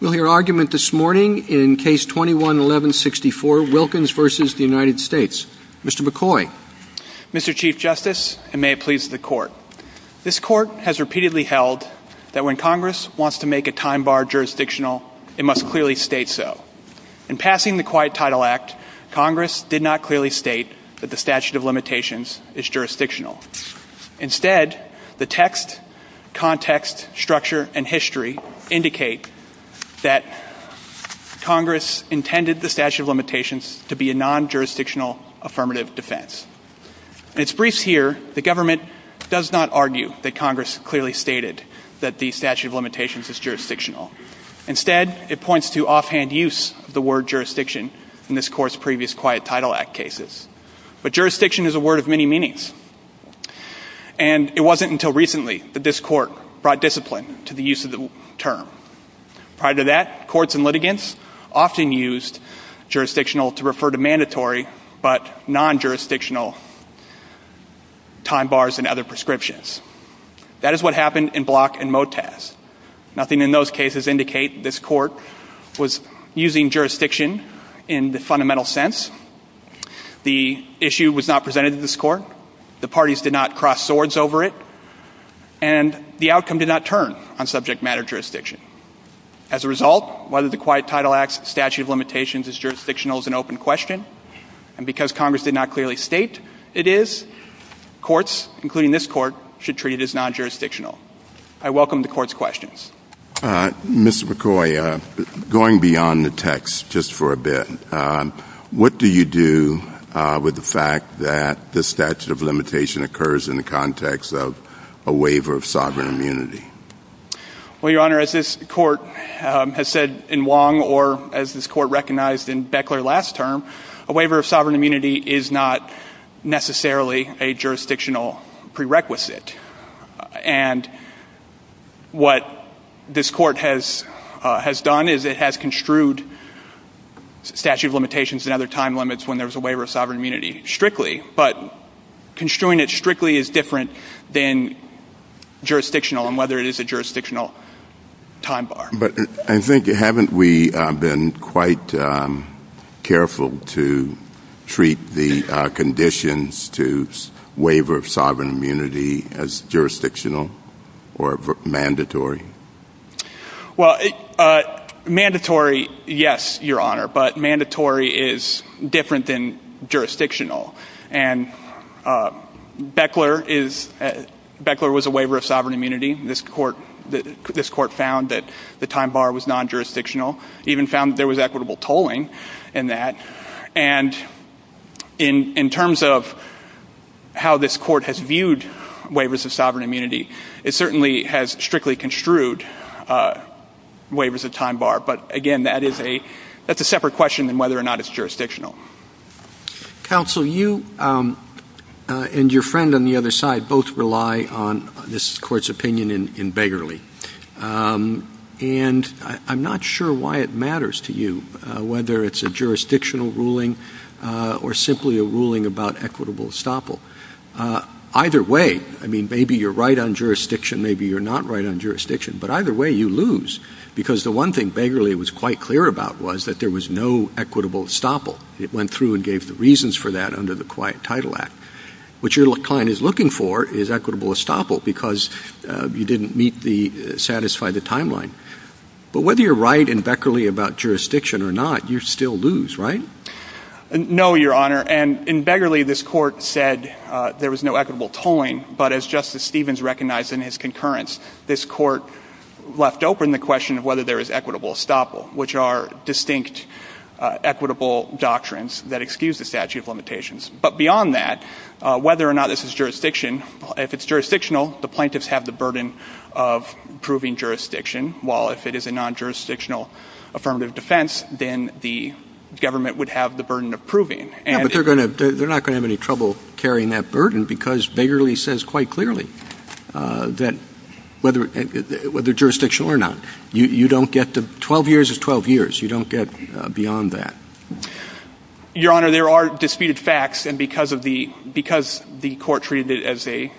We'll hear argument this morning in Case 21-1164, Wilkins v. United States. Mr. McCoy. Mr. Chief Justice, and may it please the Court, this Court has repeatedly held that when Congress wants to make a time bar jurisdictional, it must clearly state so. In passing the Quiet Title Act, Congress did not clearly state that the statute of limitations is jurisdictional. Instead, the text, context, structure, and history indicate that Congress intended the statute of limitations to be a non-jurisdictional affirmative defense. In its briefs here, the government does not argue that Congress clearly stated that the statute of limitations is jurisdictional. Instead, it points to offhand use of the word jurisdiction in this Court's term. And it wasn't until recently that this Court brought discipline to the use of the term. Prior to that, courts and litigants often used jurisdictional to refer to mandatory but non-jurisdictional time bars and other prescriptions. That is what happened in Block and Motaz. Nothing in those cases indicate this Court was using jurisdiction in the fundamental sense. The issue was not presented to this Court. The parties did not cross swords over it. And the outcome did not turn on subject matter jurisdiction. As a result, whether the Quiet Title Act's statute of limitations is jurisdictional is an open question. And because Congress did not clearly state it is, courts, including this Court, should treat it as non-jurisdictional. I welcome the Court's questions. Mr. McCoy, going beyond the text just for a bit, what do you do with the fact that the statute of limitation occurs in the context of a waiver of sovereign immunity? Well, Your Honor, as this Court has said in Wong or as this Court recognized in Beckler last term, a waiver of sovereign immunity is not necessarily a jurisdictional prerequisite. And what this Court has done is it has construed statute of limitations and other time limits when there was a waiver of sovereign immunity strictly. But construing it strictly is different than jurisdictional and whether it is a jurisdictional time bar. But I think, haven't we been quite careful to treat the conditions to waiver of sovereign immunity as jurisdictional or mandatory? Well, mandatory, yes, Your Honor. But mandatory is different than jurisdictional. And the time bar was non-jurisdictional. Even found there was equitable tolling in that. And in terms of how this Court has viewed waivers of sovereign immunity, it certainly has strictly construed waivers of time bar. But again, that is a separate question than whether or not it's jurisdictional. Counsel, you and your friend on the other side both rely on this Court's opinion in And I'm not sure why it matters to you whether it's a jurisdictional ruling or simply a ruling about equitable estoppel. Either way, I mean, maybe you're right on jurisdiction, maybe you're not right on jurisdiction, but either way you lose. Because the one thing Beggarly was quite clear about was that there was no equitable estoppel. It went through and gave the reasons for that under the Quiet Title Act. What your client is looking for is equitable timeline. But whether you're right in Beggarly about jurisdiction or not, you still lose, right? No, Your Honor. And in Beggarly, this Court said there was no equitable tolling. But as Justice Stevens recognized in his concurrence, this Court left open the question of whether there is equitable estoppel, which are distinct equitable doctrines that excuse the statute of limitations. But beyond that, whether or not this is jurisdiction, if it's jurisdictional, the plaintiffs have the burden of proving jurisdiction, while if it is a non-jurisdictional affirmative defense, then the government would have the burden of proving. Yeah, but they're not going to have any trouble carrying that burden because Beggarly says quite clearly that whether jurisdictional or not, you don't get to 12 years is 12 years. You don't get beyond that. Your Honor, there are disputed facts. And because the Court treated it as a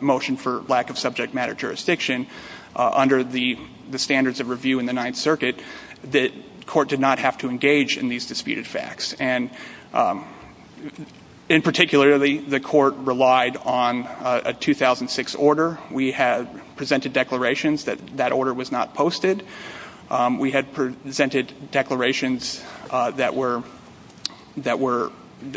motion for lack of subject matter jurisdiction under the standards of review in the Ninth Circuit, the Court did not have to engage in these disputed facts. And in particular, the Court relied on a 2006 order. We had presented declarations that that order was not posted. We had presented declarations that were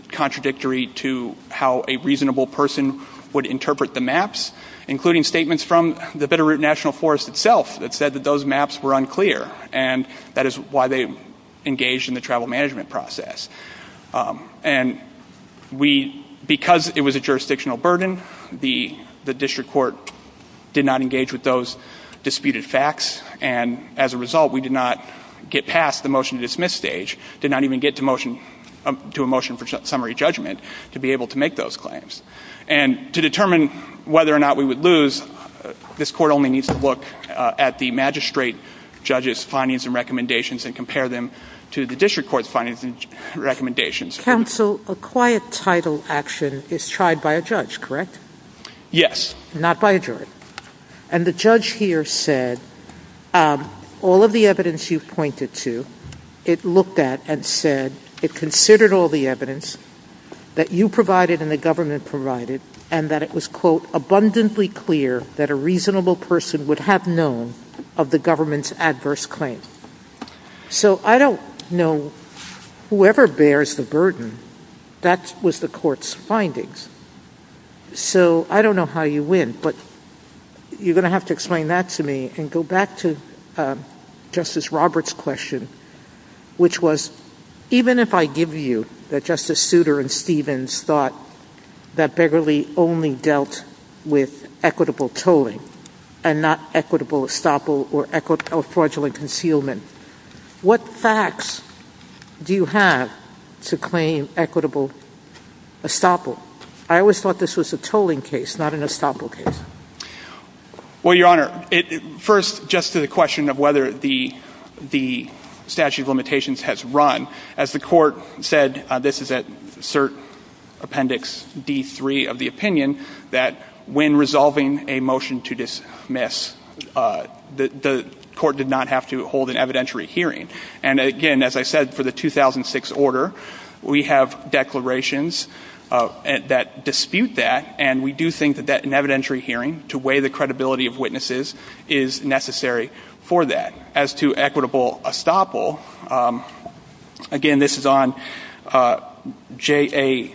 contradictory to how a reasonable person would interpret the maps, including statements from the Bitterroot National Forest itself that said that those maps were unclear. And that is why they engaged in the travel management process. And we, because it was a jurisdictional burden, the district court did not engage with those disputed facts. And as a result, we did not get past the motion to dismiss stage, did not even get to a motion for summary judgment to be able to make those claims. And to determine whether or not we would lose, this Court only needs to look at the magistrate judge's findings and recommendations and compare them to the district court's findings and recommendations. Counsel, a quiet title action is tried by a judge, correct? Yes. Not by a jury. And the judge here said all of the evidence you pointed to, it looked at and said it considered all the evidence that you provided and the government provided and that it was, quote, abundantly clear that a reasonable person would have known of the government's adverse claim. So I don't know, whoever bears the burden, that was the Court's findings. So I don't know how you win, but you're going to have to explain that to me and go back to Justice Roberts' question, which was, even if I give you that Justice Souter and Stevens thought that Begley only dealt with equitable tolling and not equitable estoppel or fraudulent concealment, what facts do you have to claim equitable estoppel? I always thought this was a tolling case, not an estoppel case. Well, Your Honor, first, just to the question of whether the statute of limitations has run, as the Court said, this is at Cert Appendix D3 of the opinion, that when resolving a motion to dismiss, the Court did not have to hold an evidentiary hearing. And again, as I said, for the 2006 order, we have declarations that dispute that, and we do think that an evidentiary hearing to weigh the credibility of witnesses is necessary for that. As to equitable estoppel, again, this is on JA6.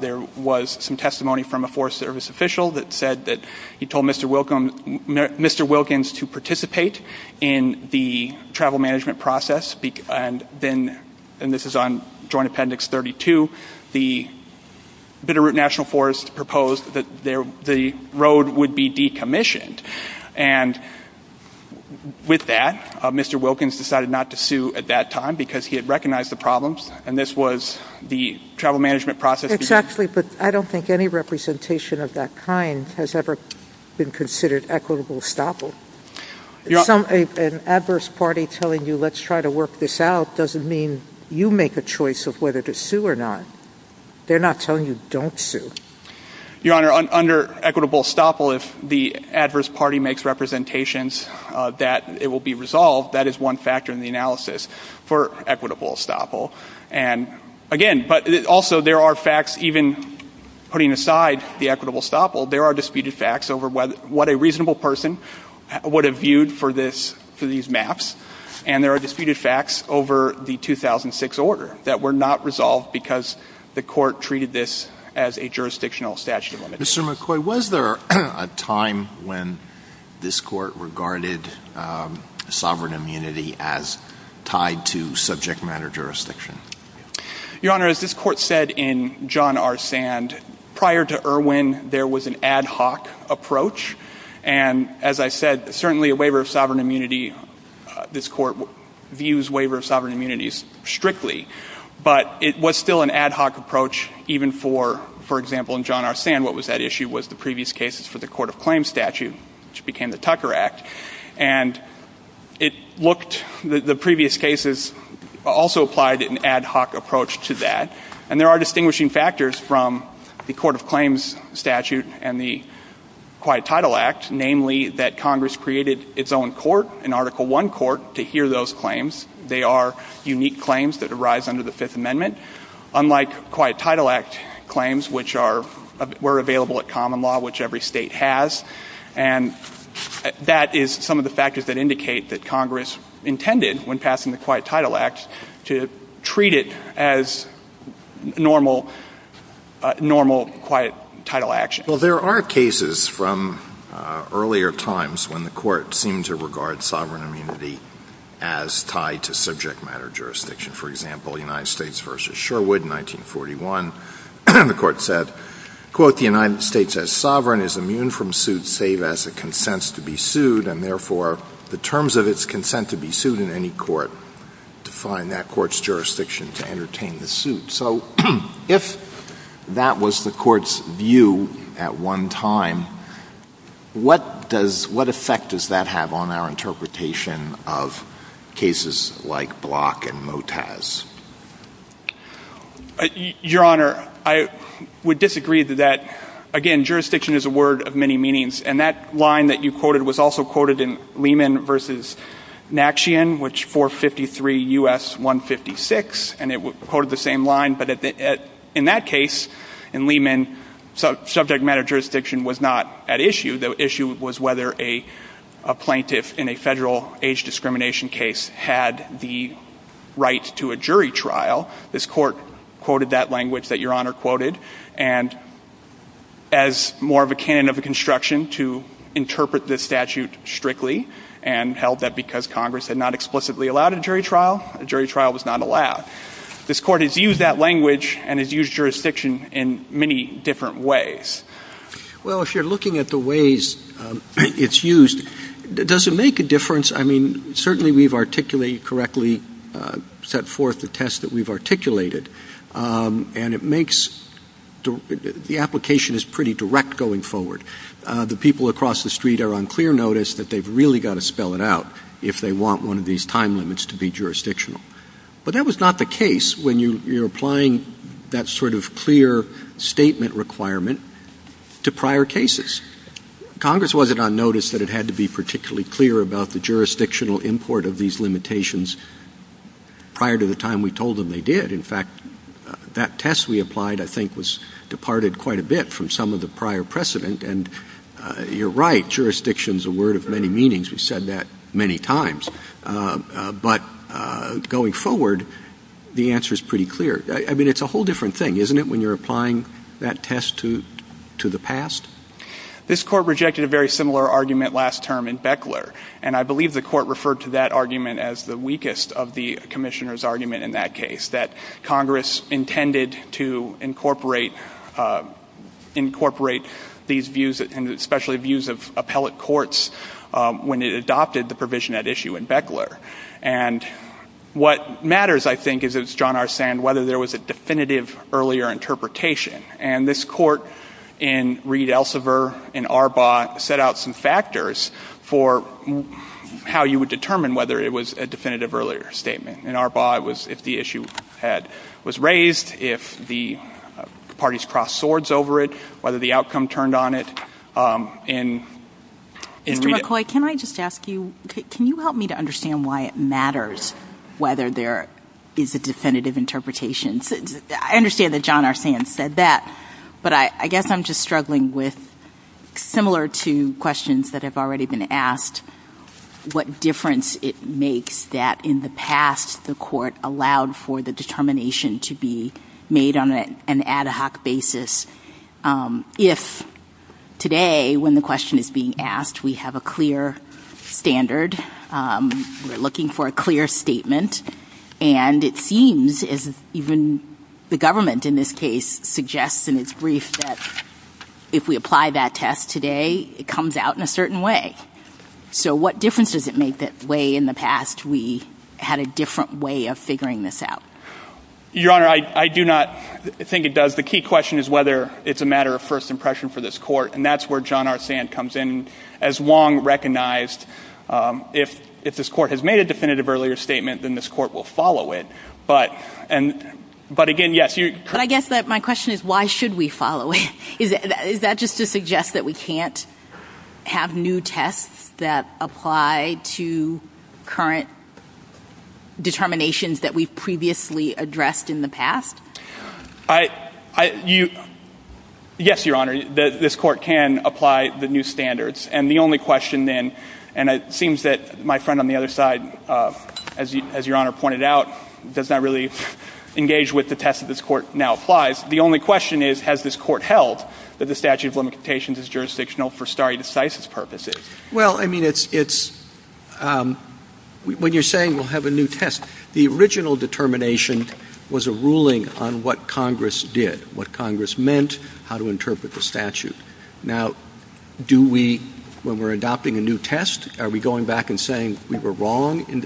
There was some testimony from a Forest Service official that said that he told Mr. Wilkins to participate in the travel management process, and then, and this is on Joint Appendix 32, the Bitterroot National Forest proposed that the road would be decommissioned. And with that, Mr. Wilkins decided not to sue at that time because he had recognized the problems, and this was the travel management process. Exactly, but I don't think any representation of that kind has ever been considered equitable estoppel. An adverse party telling you, let's try to work this out, doesn't mean you make a choice of whether to sue or not. They're not telling you, don't sue. Your Honor, under equitable estoppel, if the adverse party makes representations that it will be resolved, that is one factor in the analysis for equitable estoppel. And again, but also there are facts, even putting aside the equitable estoppel, there are disputed facts over what a reasonable person would have viewed for this, for these maps, and there are disputed facts over the 2006 order that were not resolved because the court treated this as a jurisdictional statute of limitations. Mr. McCoy, was there a time when this court regarded sovereign immunity as tied to subject matter jurisdiction? Your Honor, as this court said in John R. Sand, prior to Irwin, there was an ad hoc approach, and as I said, certainly a waiver of sovereign immunity, this court views waiver of sovereign immunity strictly, but it was still an ad hoc approach even for, for example, in John R. Sand, what was that issue, was the previous cases for the court of claims statute, which became the Tucker Act, and it looked, the previous cases also applied an ad hoc approach to that, and there are distinguishing factors from the court of claims statute and the Quiet Title Act, namely that Congress created its own court, an Article 1 court, to hear those claims. They are unique claims that arise under the Fifth Amendment, unlike Quiet Title Act claims, which are, were available at common law, which every state has, and that is some of the factors that indicate that Congress intended, when passing the Quiet Title Act, to treat it as normal, normal quiet title action. Well, there are cases from earlier times when the court seemed to regard sovereign immunity as tied to subject matter jurisdiction. For example, United States v. Sherwood, 1941, the court said, quote, the United States as sovereign is immune from suit save as it consents to be sued, and therefore, the terms of its consent to be sued in any court define that court's jurisdiction to entertain the suit. So, if that was the court's view at one time, what does, what effect does that have on our interpretation of cases like Block and Motaz? Your Honor, I would disagree to that. Again, jurisdiction is a word of many meanings, and that line that you quoted was also quoted in Lehman v. Naxchian, which 453 U.S. 156, and it quoted the same line, but in that case, in Lehman, subject matter jurisdiction was not at issue. The issue was whether a plaintiff in a federal age discrimination case had the right to a jury trial. This court quoted that language that Your Honor quoted, and as more of a canon of a construction to interpret this statute strictly, and held that because Congress had not explicitly allowed a jury trial, a jury trial was not allowed. This court has used that language and has used jurisdiction in many different ways. Well, if you're looking at the ways it's used, does it make a difference? I mean, certainly we've articulated correctly, set forth the test that we've articulated, and it makes a difference. The application is pretty direct going forward. The people across the street are on clear notice that they've really got to spell it out if they want one of these time limits to be jurisdictional. But that was not the case when you're applying that sort of clear statement requirement to prior cases. Congress wasn't on notice that it had to be particularly clear about the jurisdictional import of these limitations prior to the time we told them they did. In fact, that test we applied, I think, was departed quite a bit from some of the prior precedent. And you're right. Jurisdiction is a word of many meanings. We've said that many times. But going forward, the answer is pretty clear. I mean, it's a whole different thing, isn't it, when you're applying that test to the past? This court rejected a very similar argument last term in Beckler. And I believe the court referred to that argument as the weakest of the commissioner's argument in that case, that Congress intended to incorporate these views, and especially views of appellate courts, when it adopted the provision at issue in Beckler. And what matters, I think, is, as John Arsand, whether there was a definitive earlier interpretation. And this court in Reed Elsevier and Arbaugh set out some factors for how you would determine whether it was a definitive earlier statement. In Arbaugh, it was if the issue was raised, if the parties crossed swords over it, whether the outcome turned on it. Mr. McCoy, can I just ask you, can you help me to understand why it matters whether there is a definitive interpretation? I understand that John Arsand said that, but I guess I'm just struggling with, similar to questions that have already been asked, what difference it makes that, in the past, the court allowed for the determination to be made on an ad hoc basis. If today, when the question is being asked, we have a clear standard, we're looking for a clear statement, and it seems, as even the government in this case suggests in its brief that if we apply that test today, it comes out in a certain way. So what difference does it make that, way in the past, we had a different way of figuring this out? Your Honor, I do not think it does. The key question is whether it's a matter of first impression for this court, and that's where John Arsand comes in. As Wong recognized, if this court has made a definitive earlier statement, then this court will follow it. But again, yes, you're correct. But I guess that my question is, why should we follow it? Is that just to suggest that we can't have new tests that apply to current determinations that we've previously addressed in the past? Yes, Your Honor. This court can apply the new standards. And the only question then, and it seems that my friend on the other side, as Your Honor pointed out, does not really engage with the test that this court now applies. The only question is, has this court held that the statute of limitations is jurisdictional for stare decisis purposes? Well, I mean, it's — when you're saying we'll have a new test, the original determination was a ruling on what Congress did, what Congress meant, how to interpret the statute. Now, do we, when we're adopting a new test, are we going back and saying we were wrong in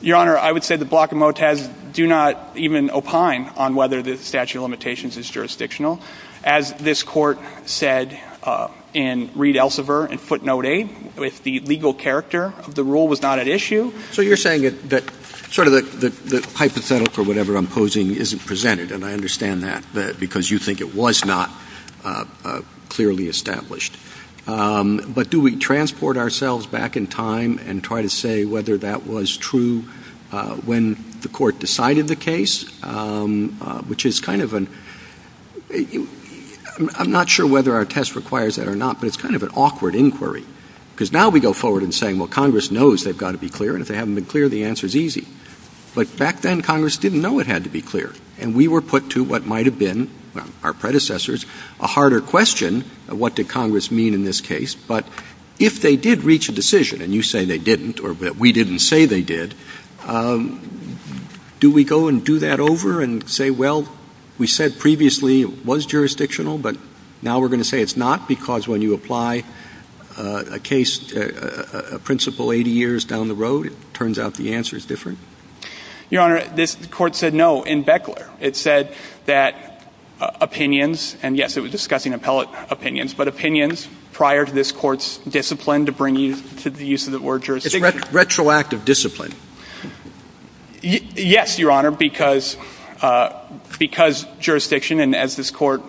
Your Honor, I would say that Block and Motaz do not even opine on whether the statute of limitations is jurisdictional. As this court said in Reed-Elsevier in footnote 8, if the legal character of the rule was not at issue — So you're saying that sort of the hypothetical or whatever I'm posing isn't presented, and I understand that, because you think it was not clearly established. But do we transport ourselves back in time and try to say whether that was true when the court decided the case, which is kind of an — I'm not sure whether our test requires that or not, but it's kind of an awkward inquiry. Because now we go forward and say, well, Congress knows they've got to be clear, and if they haven't been clear, the answer is easy. But back then, Congress didn't know it had to be clear. And we were put to what might have been — our predecessors — a harder question of what did Congress mean in this case. But if they did reach a decision, and you say they didn't or that we didn't say they did, do we go and do that over and say, well, we said previously it was jurisdictional, but now we're going to say it's not, because when you apply a case — a principle 80 years down the road, it turns out the answer is different? Your Honor, this Court said no in Beckler. It said that opinions — and, yes, it was the use of the word jurisdiction. It's retroactive discipline. Yes, Your Honor, because jurisdiction, and as this Court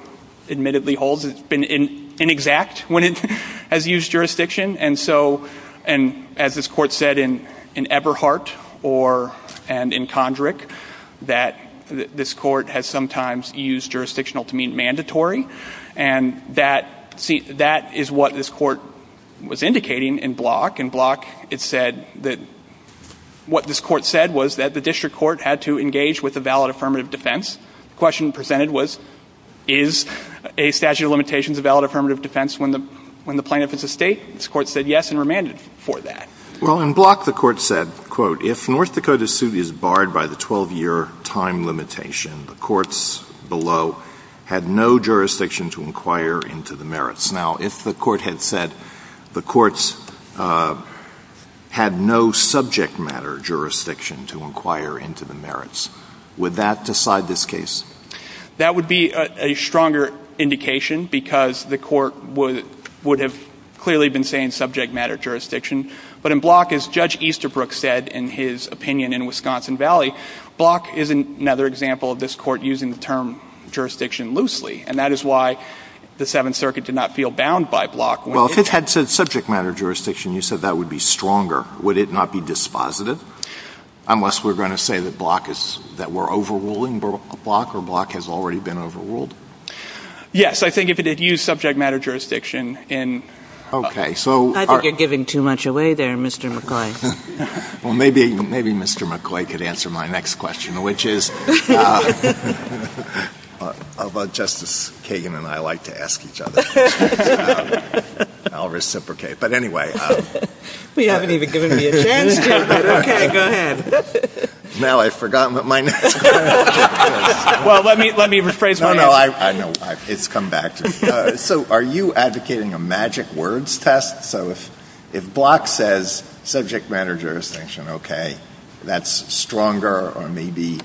admittedly holds, has been inexact when it has used jurisdiction. And so — and as this Court said in Eberhardt or — and in Kondrick, that this Court has sometimes used jurisdictional to mean mandatory. And that — see, that is what this Court was indicating in Block. In Block, it said that what this Court said was that the district court had to engage with a valid affirmative defense. The question presented was, is a statute of limitations a valid affirmative defense when the — when the plaintiff is a State? This Court said yes and remanded for that. Well, in Block, the Court said, quote, if North Dakota's suit is barred by the 12-year time limitation, the courts below had no jurisdiction to inquire into the merits. Now, if the Court had said the courts had no subject matter jurisdiction to inquire into the merits, would that decide this case? That would be a stronger indication because the Court would — would have clearly been saying subject matter jurisdiction. But in Block, as Judge Easterbrook said in his opinion in Wisconsin Valley, Block is another example of this Court using the term jurisdiction loosely. And that is why the Seventh Circuit did not feel bound by Block. Well, if it had said subject matter jurisdiction, you said that would be stronger. Would it not be dispositive? Unless we're going to say that Block is — that we're overruling Block, or Block has already been overruled? Yes. I think if it had used subject matter jurisdiction in — Okay. So — I think you're giving too much away there, Mr. McCoy. Well, maybe — maybe Mr. McCoy could answer my next question, which is — Justice Kagan and I like to ask each other questions. I'll reciprocate. But anyway — Well, you haven't even given me a chance yet, but okay, go ahead. Now I've forgotten what my next question is. Well, let me — let me rephrase my answer. No, no. I know. It's come back to me. So are you advocating a magic words test? So if Block says subject matter jurisdiction, okay, that's stronger, or maybe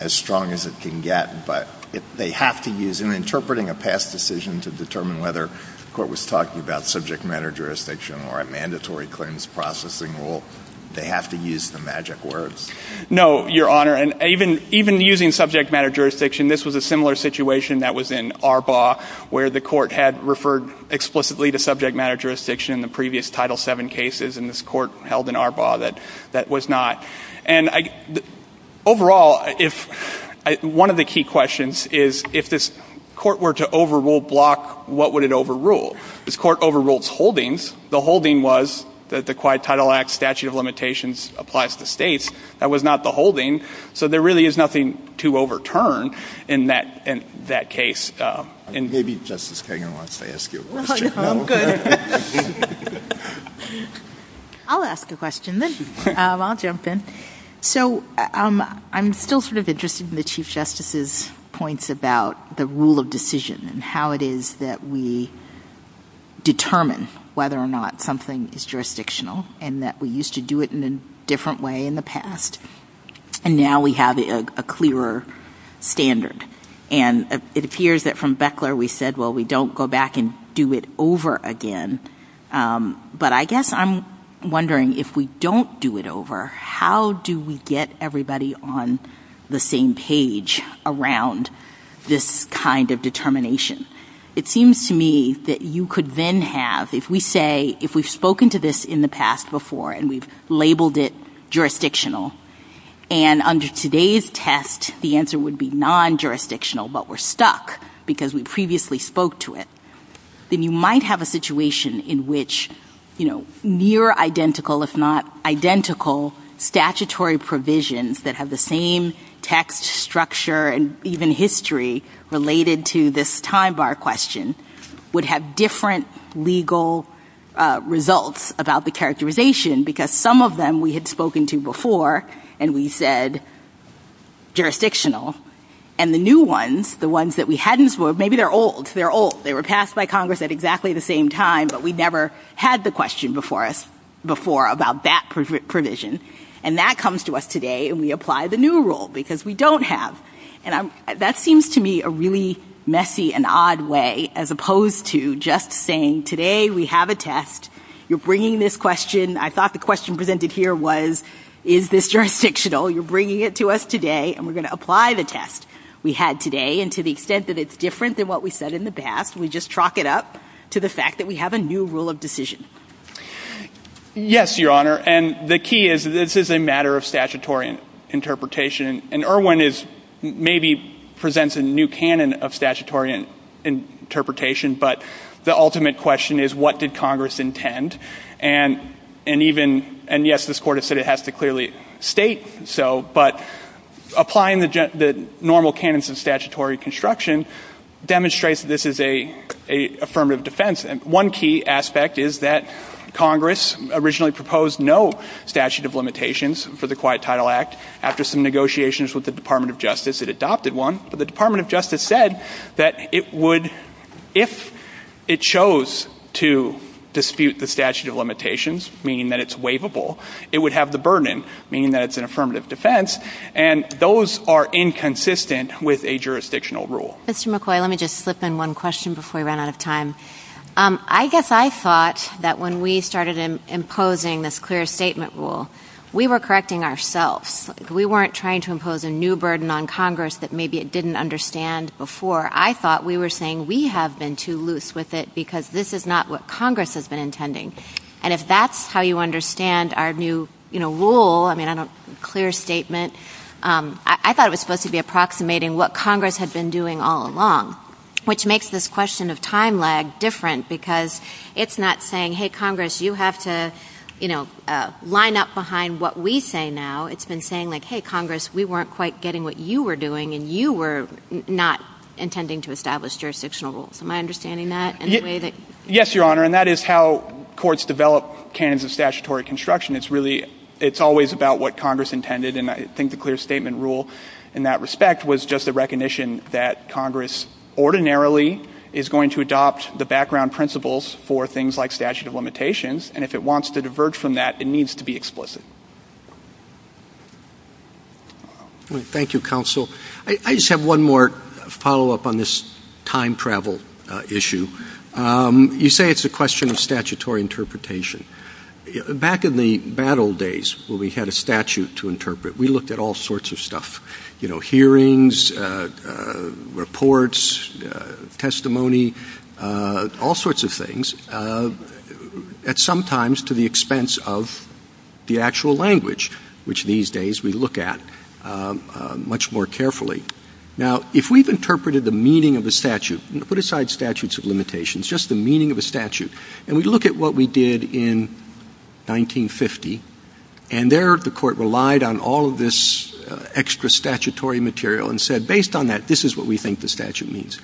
as strong as it can get, but they have to use — in interpreting a past decision to determine whether the Court was talking about subject matter jurisdiction or a mandatory clearance processing rule, they have to use the magic words? No, Your Honor. And even — even using subject matter jurisdiction, this was a similar situation that was in Arbaugh, where the Court had referred explicitly to subject matter jurisdiction in the previous Title VII cases, and this Court held in Arbaugh that that was not. And I — overall, if — one of the key questions is, if this Court were to overrule Block, what would it overrule? This Court overruled its holdings. The holding was that the Quiet Title Act Statute of Limitations applies to states. That was not the holding. So there really is nothing to overturn in that — in that case. And maybe Justice Kagan wants to ask you a question. No, I'm good. I'll ask a question then. I'll jump in. So I'm still sort of interested in the Chief Justice's points about the rule of decision and how it is that we determine whether or not something is jurisdictional and that we used to do it in a different way in the past, and now we have a clearer standard. And it appears that from Beckler, we said, well, we don't go back and do it over again. But I guess I'm wondering, if we don't do it over, how do we get everybody on the same page around this kind of determination? It seems to me that you could then have — if we say — if we've spoken to this in the past, jurisdictional, and under today's test, the answer would be non-jurisdictional, but we're stuck because we previously spoke to it, then you might have a situation in which, you know, near identical, if not identical, statutory provisions that have the same text structure and even history related to this time bar question would have different legal results about the characterization, because some of them we had spoken to before, and we said jurisdictional. And the new ones, the ones that we hadn't spoke — maybe they're old. They're old. They were passed by Congress at exactly the same time, but we never had the question before us before about that provision. And that comes to us today, and we apply the new rule, because we don't have — and that seems to me a really messy and odd way, as we go through the test. You're bringing this question — I thought the question presented here was, is this jurisdictional? You're bringing it to us today, and we're going to apply the test we had today, and to the extent that it's different than what we said in the past, we just chalk it up to the fact that we have a new rule of decision. Yes, Your Honor, and the key is, this is a matter of statutory interpretation, and Erwin is — maybe presents a new canon of statutory interpretation, but the ultimate question is, what did Congress intend? And even — and yes, this Court has said it has to clearly state, so — but applying the general — the normal canons of statutory construction demonstrates that this is an affirmative defense. And one key aspect is that Congress originally proposed no statute of limitations for the Quiet Title Act. After some negotiations with the Department of Justice, it adopted one. But the Department of Justice said that it would — if it chose to dispute the statute of limitations, meaning that it's waivable, it would have the burden, meaning that it's an affirmative defense, and those are inconsistent with a jurisdictional rule. Mr. McCoy, let me just slip in one question before we run out of time. I guess I thought that when we started imposing this clear statement rule, we were correcting ourselves. We weren't trying to impose a new burden on Congress that maybe it didn't understand before. I thought we were saying we have been too loose with it because this is not what Congress has been intending. And if that's how you understand our new, you know, rule — I mean, I don't — clear statement — I thought it was supposed to be approximating what Congress had been doing all along, which makes this question of time lag different because it's not saying, hey, Congress, you have to, you know, line up behind what we say now. It's been saying, like, hey, Congress, we weren't quite getting what you were doing and you were not intending to establish jurisdictional rules. Am I understanding that in a way that — Yes, Your Honor, and that is how courts develop canons of statutory construction. It's really — it's always about what Congress intended, and I think the clear statement rule in that respect was just a recognition that Congress ordinarily is going to adopt the background principles for things like statute of limitations, and if it wants to diverge from that, it needs to be explicit. Thank you, Counsel. I just have one more follow-up on this time travel issue. You say it's a question of statutory interpretation. Back in the bad old days, when we had a statute to interpret, we looked at all sorts of stuff — you know, hearings, reports, testimony, all sorts of things, at some times to the expense of the actual language, which these days we look at much more carefully. Now, if we've interpreted the meaning of a statute — put aside statutes of limitations, just the meaning of a statute, and we look at what we did in 1950, and there the Court relied on all of this extra statutory material and said, based on that, this is what we think the statute means.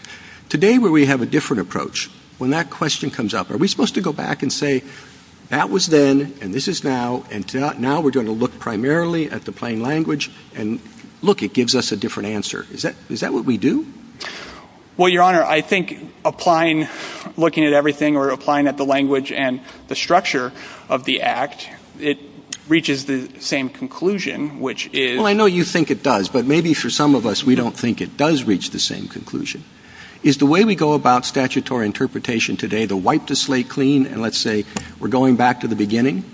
Today, where we have a different approach, when that question comes up, are we supposed to go back and say, that was then, and this is now, and now we're going to look primarily at the plain language, and look, it gives us a different answer. Is that — is that what we do? Well, Your Honor, I think applying — looking at everything or applying at the language and the structure of the Act, it reaches the same conclusion, which is — Well, I know you think it does, but maybe for some of us, we don't think it does reach the same conclusion. Is the way we go about statutory interpretation today to wipe the slate clean and let's say we're going back to the beginning?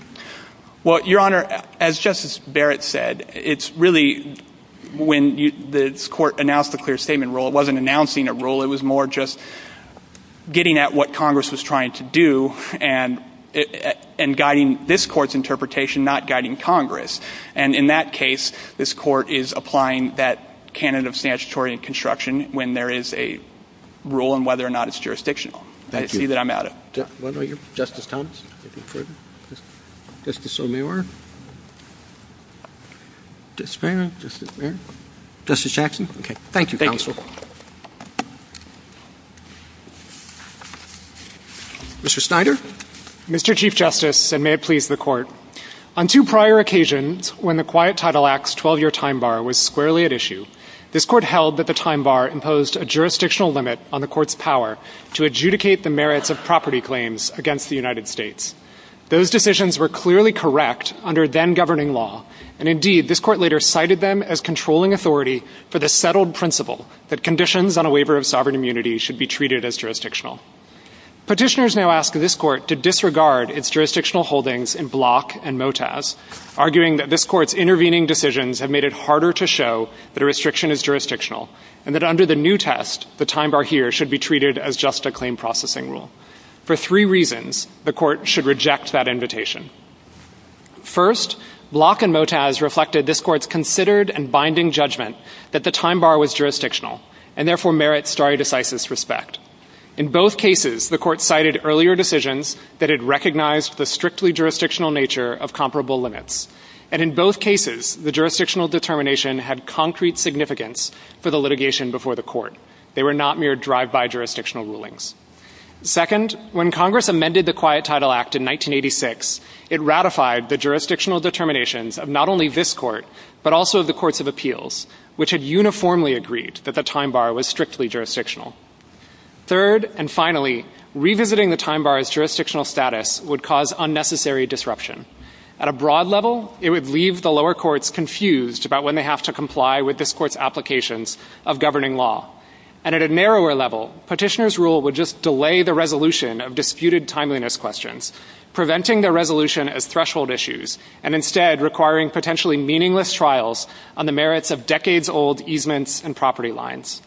Well, Your Honor, as Justice Barrett said, it's really — when this Court announced the clear statement rule, it wasn't announcing a rule. It was more just getting at what Congress was trying to do and guiding this Court's interpretation, not guiding Congress. And in that case, this Court is applying that candidate of statutory and construction when there is a rule and whether or not it's jurisdictional. Thank you. I see that I'm out of — Justice Thomas. Justice O'Meara. Justice Barrett. Justice Barrett. Justice Jackson. Okay. Thank you, counsel. Thank you. Mr. Snyder. Mr. Chief Justice, and may it please the Court. On two prior occasions, when the Wyatt-Title Act's 12-year time bar was squarely at issue, this Court held that the time bar imposed a jurisdictional limit on the Court's power to adjudicate the merits of property claims against the United States. Those decisions were clearly correct under then-governing law, and indeed, this Court later cited them as controlling authority for the settled principle that conditions on a waiver of sovereign immunity should be treated as jurisdictional. Petitioners now ask this Court to disregard its jurisdictional holdings in Block and Motaz, arguing that this Court's intervening decisions have made it harder to show that a restriction is jurisdictional, and that under the new test, the time bar here should be treated as just a claim-processing rule. For three reasons, the Court should reject that invitation. First, Block and Motaz reflected this Court's considered and binding judgment that the time bar was jurisdictional, and therefore merits stare decisis respect. In both cases, the Court cited earlier decisions that it recognized the strictly jurisdictional nature of comparable limits, and in both cases, the jurisdictional determination had concrete significance for the litigation before the Court. They were not mere drive-by jurisdictional rulings. Second, when Congress amended the Quiet Title Act in 1986, it ratified the jurisdictional determinations of not only this Court, but also of the Courts of Appeals, which had uniformly agreed that the time bar was strictly jurisdictional. Third, and finally, revisiting the time bar's jurisdictional status would cause unnecessary disruption. At a broad level, it would leave the lower courts confused about when they have to comply with this Court's applications of governing law. And at a narrower level, petitioners' rule would just delay the resolution of disputed timeliness questions, preventing the resolution as threshold issues, and instead requiring potentially meaningless trials on the merits of decades-old easements and property lines.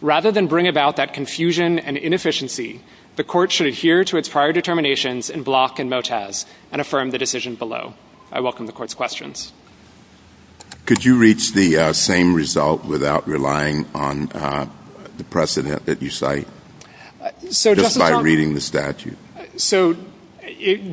Rather than bring about that confusion and inefficiency, the Court should adhere to its prior determinations in Block and Motaz, and affirm the decision below. I welcome the Court's questions. Could you reach the same result without relying on the precedent that you cite, just by reading the statute? So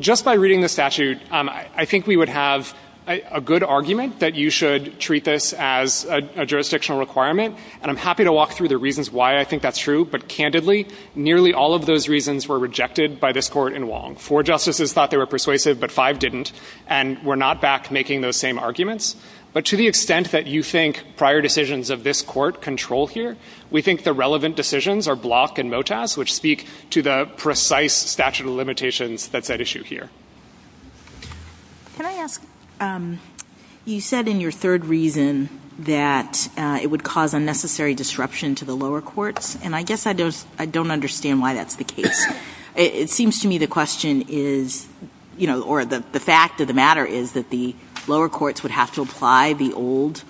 just by reading the statute, I think we would have a good argument that you should treat this as a jurisdictional requirement, and I'm happy to walk through the reasons why I think that's true. But candidly, nearly all of those reasons were rejected by this Court in Wong. Four justices thought they were persuasive, but five didn't, and we're not back making those same arguments. But to the extent that you think prior decisions of this Court control here, we think the relevant decisions are Block and Motaz, which speak to the precise statute of limitations that's at issue here. Can I ask, you said in your third reason that it would cause unnecessary disruption to the lower courts, and I guess I don't understand why that's the case. It seems to me the question is, you know, or the fact of the matter is that the lower courts would have to apply the old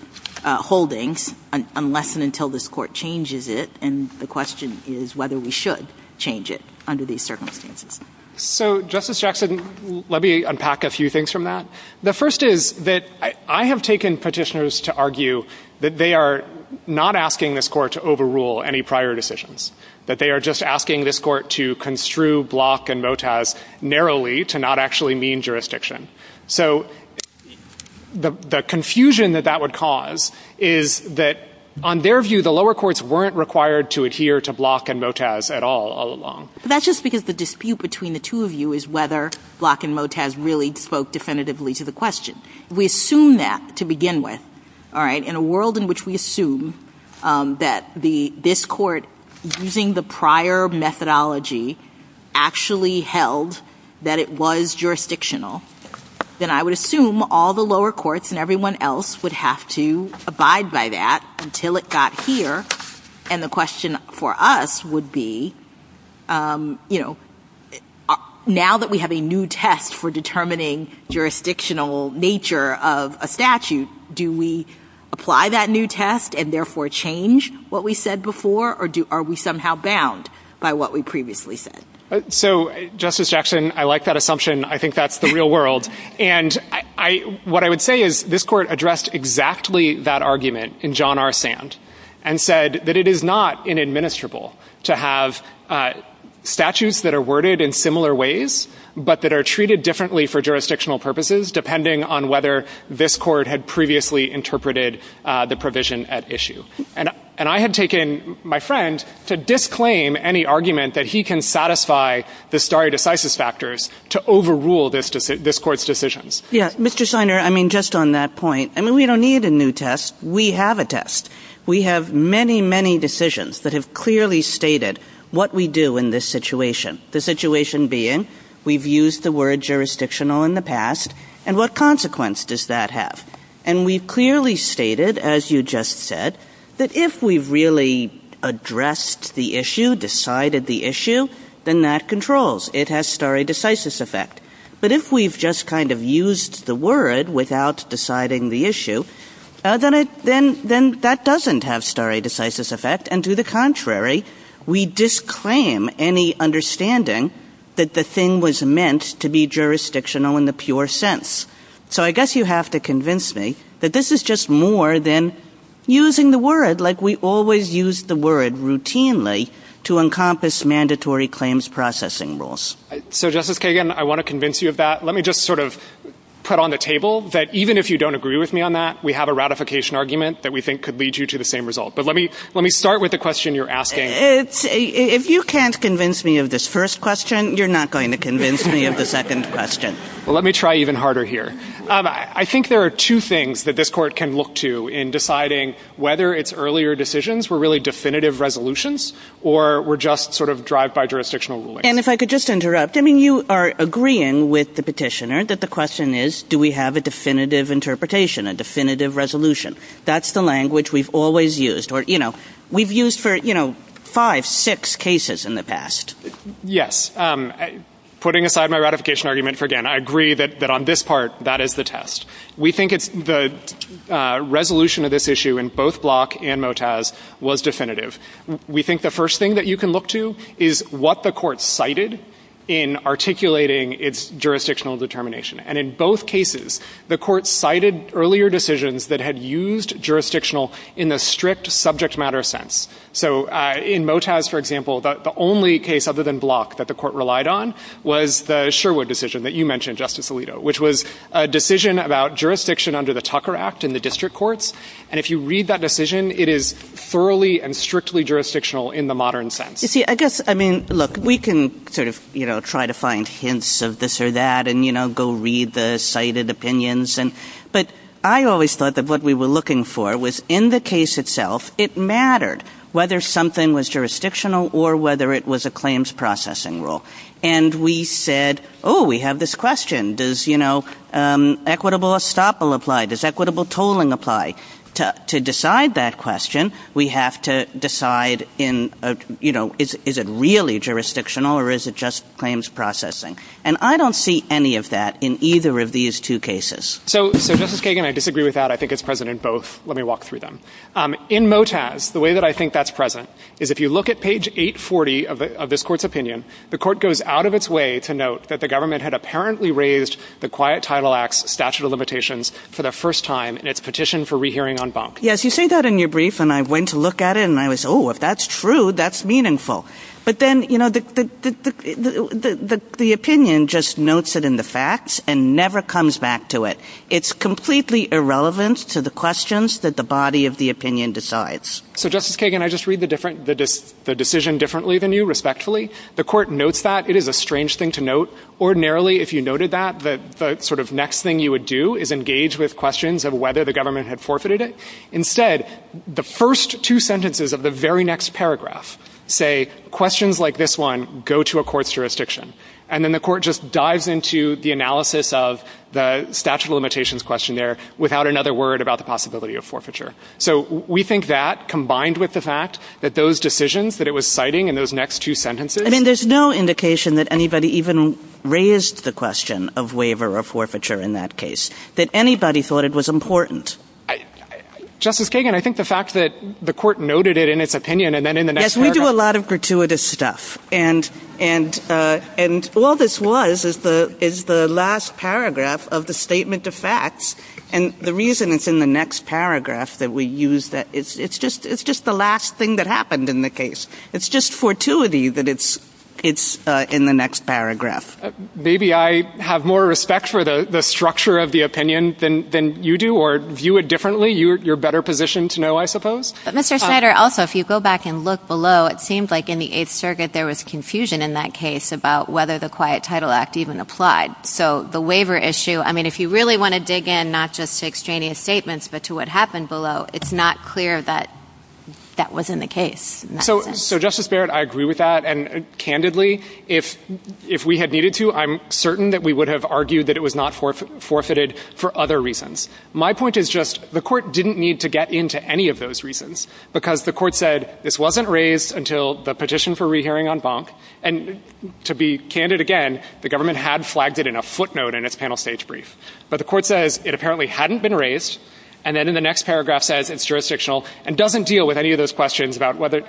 holdings unless and until this Court changes it, and the question is whether we should change it under these circumstances. So Justice Jackson, let me unpack a few things from that. The first is that I have taken petitioners to argue that they are not asking this Court to overrule any prior decisions, that they are just asking this Court to construe Block and Motaz narrowly to not actually mean jurisdiction. So the confusion that that would cause is that, on their view, the lower courts weren't required to adhere to Block and Motaz at all, all along. That's just because the dispute between the two of you is whether Block and Motaz really stand with. In a world in which we assume that this Court, using the prior methodology, actually held that it was jurisdictional, then I would assume all the lower courts and everyone else would have to abide by that until it got here, and the question for us would be, you know, now that we have a new test for determining jurisdictional nature of a statute, do we apply that new test and therefore change what we said before, or are we somehow bound by what we previously said? So Justice Jackson, I like that assumption. I think that's the real world. And what I would say is this Court addressed exactly that argument in John R. Sand and said that it is not inadministrable to have statutes that are worded in similar ways but that are in a way where this Court had previously interpreted the provision at issue. And I had taken my friend to disclaim any argument that he can satisfy the stare decisis factors to overrule this Court's decisions. Yeah. Mr. Siner, I mean, just on that point, I mean, we don't need a new test. We have a test. We have many, many decisions that have clearly stated what we do in this situation, the situation being we've used the word jurisdictional in the past, and what consequence does that have? And we've clearly stated, as you just said, that if we've really addressed the issue, decided the issue, then that controls. It has stare decisis effect. But if we've just kind of used the word without deciding the issue, then it, then that doesn't have stare decisis effect, and to the contrary, we disclaim any understanding that the thing was meant to be jurisdictional in the pure sense. So I guess you have to convince me that this is just more than using the word like we always use the word routinely to encompass mandatory claims processing rules. So Justice Kagan, I want to convince you of that. Let me just sort of put on the table that even if you don't agree with me on that, we have a ratification argument that we think could lead you to the same result. But let me start with the question you're asking. If you can't convince me of this first question, you're not going to convince me of the second question. Well, let me try even harder here. I think there are two things that this court can look to in deciding whether its earlier decisions were really definitive resolutions or were just sort of drive-by jurisdictional rulings. And if I could just interrupt, I mean, you are agreeing with the petitioner that the question is, do we have a definitive interpretation, a definitive resolution? That's the language we've always used or, you know, we've used for, you know, five, six cases in the past. Yes. Putting aside my ratification argument for again, I agree that on this part, that is the test. We think it's the resolution of this issue in both Block and Motaz was definitive. We think the first thing that you can look to is what the court cited in articulating its jurisdictional determination. And in both cases, the court cited earlier decisions that had used jurisdictional in the strict subject matter sense. So in Motaz, for example, the only case other than Block that the court relied on was the Sherwood decision that you mentioned, Justice Alito, which was a decision about jurisdiction under the Tucker Act in the district courts. And if you read that decision, it is thoroughly and strictly jurisdictional in the modern sense. You see, I guess, I mean, look, we can sort of, you know, try to find hints of this or that and, you know, go read the cited opinions. But I always thought that what we were looking for was in the case itself, it mattered whether something was jurisdictional or whether it was a claims processing rule. And we said, oh, we have this question. Does, you know, equitable estoppel apply? Does equitable tolling apply? To decide that question, we have to decide in, you know, is it really jurisdictional or is it just claims processing? And I don't see any of that in either of these two cases. So, Justice Kagan, I disagree with that. I think it's present in both. Let me walk through them. In Motaz, the way that I think that's present is if you look at page 840 of this court's opinion, the court goes out of its way to note that the government had apparently raised the Quiet Title Act's statute of limitations for the first time in its petition for rehearing en banc. Yes, you say that in your brief and I went to look at it and I was, oh, if that's true, that's meaningful. But then, you know, the opinion just notes it in the facts and never comes back to it. It's completely irrelevant to the questions that the body of the opinion decides. So, Justice Kagan, I just read the different, the decision differently than you, respectfully. The court notes that. It is a strange thing to note. Ordinarily, if you noted that, the sort of next thing you would do is engage with questions of whether the government had forfeited it. Instead, the first two sentences of the very next paragraph say, questions like this one go to a court's jurisdiction. And then the court just dives into the analysis of the statute of limitations question there without another word about the possibility of forfeiture. So we think that, combined with the fact that those decisions that it was citing in those next two sentences I mean, there's no indication that anybody even raised the question of waiver or forfeiture in that case, that anybody thought it was important. Justice Kagan, I think the fact that the court noted it in its opinion and then in the next paragraph We do a lot of gratuitous stuff. And, and, and all this was is the, is the last paragraph of the statement of facts. And the reason it's in the next paragraph that we use that it's, it's just, it's just the last thing that happened in the case. It's just fortuity that it's, it's in the next paragraph. Maybe I have more respect for the, the structure of the opinion than, than you do, or view it differently. You're, you're better positioned to know, I suppose. But Mr. Snyder, also, if you go back and look below, it seemed like in the Eighth Circuit, there was confusion in that case about whether the Quiet Title Act even applied. So the waiver issue, I mean, if you really want to dig in, not just to extraneous statements, but to what happened below, it's not clear that that was in the case. So, so Justice Barrett, I agree with that. And candidly, if, if we had needed to, I'm certain that we would have argued that it was not for, forfeited for other reasons. My point is just, the court didn't need to get into any of those reasons, because the court said, this wasn't raised until the petition for rehearing on Bonk. And to be candid again, the government had flagged it in a footnote in its panel stage brief. But the court says it apparently hadn't been raised, and then in the next paragraph says it's jurisdictional, and doesn't deal with any of those questions about whether...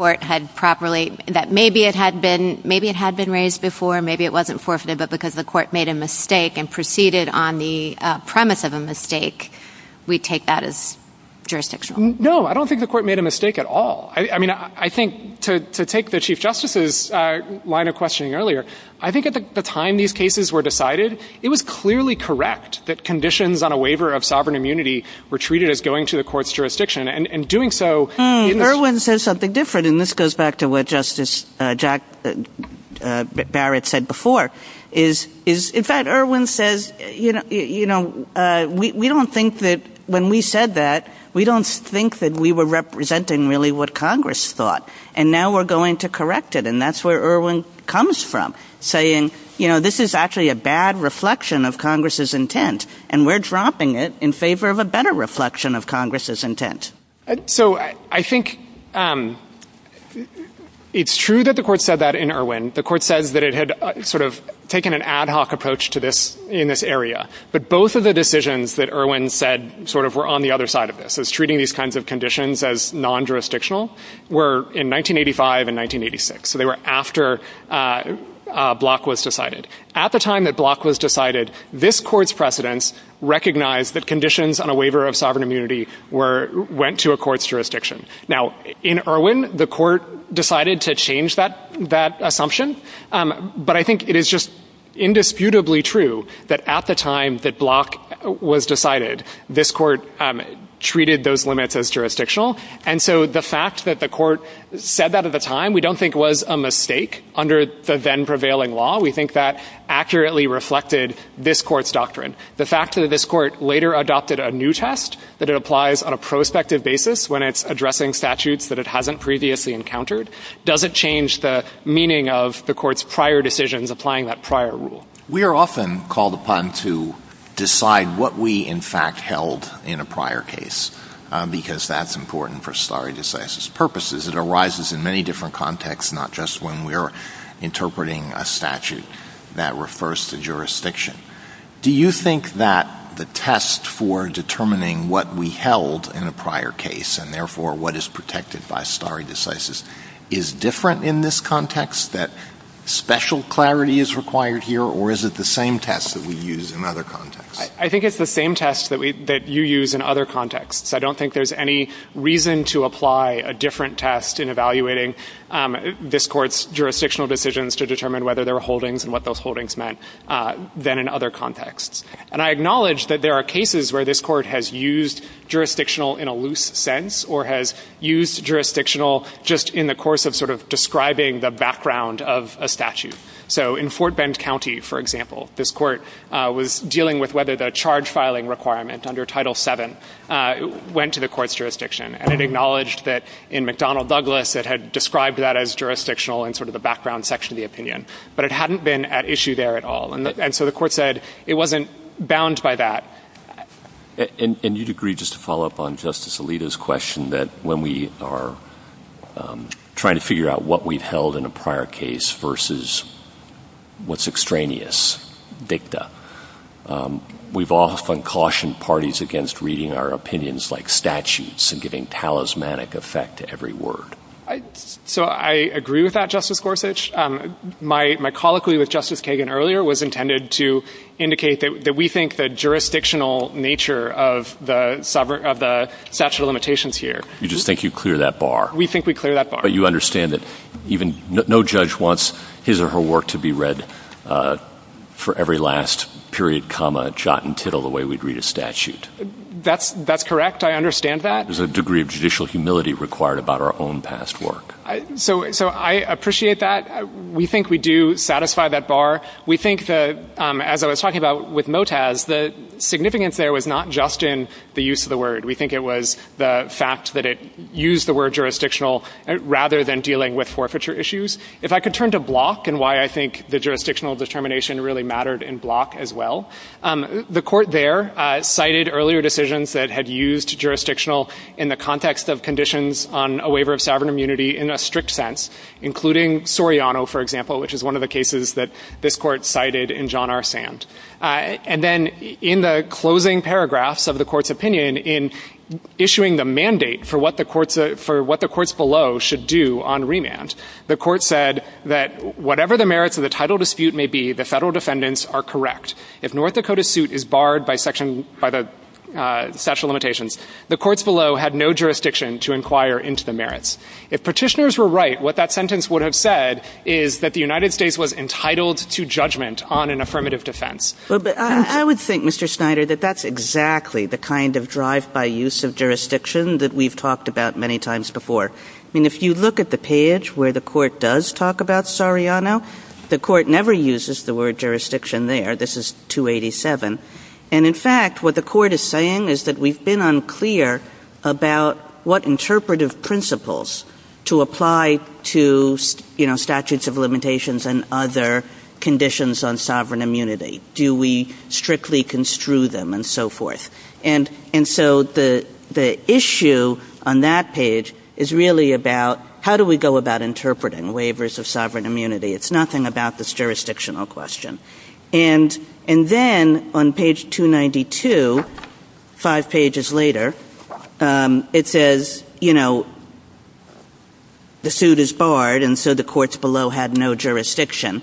Maybe it had been, maybe it had been raised before, maybe it wasn't forfeited, but because the court made a mistake and proceeded on the premise of a mistake, we take that as jurisdictional. No, I don't think the court made a mistake at all. I mean, I think to, to take the Chief Justice's line of questioning earlier, I think at the time these cases were decided, it was clearly correct that conditions on a waiver of sovereign immunity were treated as going to the court's jurisdiction. And, and doing so... Irwin says something different, and this goes back to what Justice Jack Barrett said before, is, is, in fact, Irwin says, you know, you know, we, we don't think that when we said that, we don't think that we were representing really what Congress thought. And now we're going to correct it, and that's where Irwin comes from, saying, you know, this is actually a bad reflection of Congress's intent, and we're dropping it in favor of a better reflection of Congress's intent. So I, I think it's true that the court said that in Irwin. The court says that it had sort of taken an ad hoc approach to this, in this area. But both of the decisions that Irwin said sort of were on the other side of this, as treating these kinds of conditions as non-jurisdictional, were in 1985 and 1986. So they were after Block was decided. At the time that Block was decided, this court's precedents recognized that conditions on a waiver of sovereign immunity were, went to a court's jurisdiction. Now, in Irwin, the court said that. But I think it is just indisputably true that at the time that Block was decided, this court treated those limits as jurisdictional. And so the fact that the court said that at the time, we don't think was a mistake under the then-prevailing law. We think that accurately reflected this court's doctrine. The fact that this court later adopted a new test, that it applies on a prospective basis when it's addressing statutes that it hasn't previously encountered, doesn't change the meaning of the court's prior decisions applying that prior rule. We are often called upon to decide what we, in fact, held in a prior case, because that's important for stare decisis purposes. It arises in many different contexts, not just when we are interpreting a statute that refers to jurisdiction. Do you think that the test for determining what we held in a prior case, and therefore what is protected by stare decisis is different in this context, that special clarity is required here, or is it the same test that we use in other contexts? I think it's the same test that you use in other contexts. I don't think there's any reason to apply a different test in evaluating this court's jurisdictional decisions to determine whether there were holdings and what those holdings meant than in other contexts. And I acknowledge that there are cases where this court has used jurisdictional in a loose sense or has used jurisdictional just in the course of sort of describing the background of a statute. So in Fort Bend County, for example, this court was dealing with whether the charge filing requirement under Title VII went to the court's jurisdiction. And it acknowledged that in McDonnell Douglas it had described that as jurisdictional in sort of the background section of the opinion. But it hadn't been at issue there at all. And so the court said it wasn't bound by that. And you'd agree, just to follow up on Justice Alito's question, that when we are trying to figure out what we've held in a prior case versus what's extraneous, dicta, we've often cautioned parties against reading our opinions like statutes and giving talismanic effect to every word. So I agree with that, Justice Gorsuch. My colloquy with Justice Kagan earlier was intended to indicate that we think the jurisdictional nature of the statute of limitations here. You just think you clear that bar. We think we clear that bar. But you understand that no judge wants his or her work to be read for every last period, comma, jot, and tittle the way we'd read a statute. That's correct. I understand that. There's a degree of judicial humility required about our own past work. So I appreciate that. We think we do satisfy that bar. We think that, as I was talking about with Motaz, the significance there was not just in the use of the word. We think it was the fact that it used the word jurisdictional rather than dealing with forfeiture issues. If I could turn to Block and why I think the jurisdictional determination really mattered in Block as well, the court there cited earlier decisions that had used jurisdictional in the context of conditions on a waiver of sovereign immunity in a strict sense, including Soriano, for example, which is one of the cases that this court cited in John R. Sand. And then in the closing paragraphs of the court's opinion in issuing the mandate for what the courts below should do on remand, the court said that whatever the merits of the title dispute may be, the federal defendants are correct. If North Dakota's suit is barred by the statute of limitations, the courts below had no jurisdiction to inquire into the merits. If petitioners were right, what that sentence would have said is that the United States was entitled to judgment on an affirmative defense. Kagan. But I would think, Mr. Snyder, that that's exactly the kind of drive-by use of jurisdiction that we've talked about many times before. I mean, if you look at the page where the court does talk about Soriano, the court never uses the word jurisdiction there. This is 287. And in fact, what the court is saying is that we've been unclear about what interpretive principles to apply to, you know, statutes of limitations and other conditions on sovereign immunity. Do we strictly construe them and so forth? And so the issue on that page is really about how do we go about interpreting waivers of sovereign immunity? It's nothing about this jurisdictional question. And then on page 292, five pages later, it says, you know, the suit is barred and so the courts below had no jurisdiction.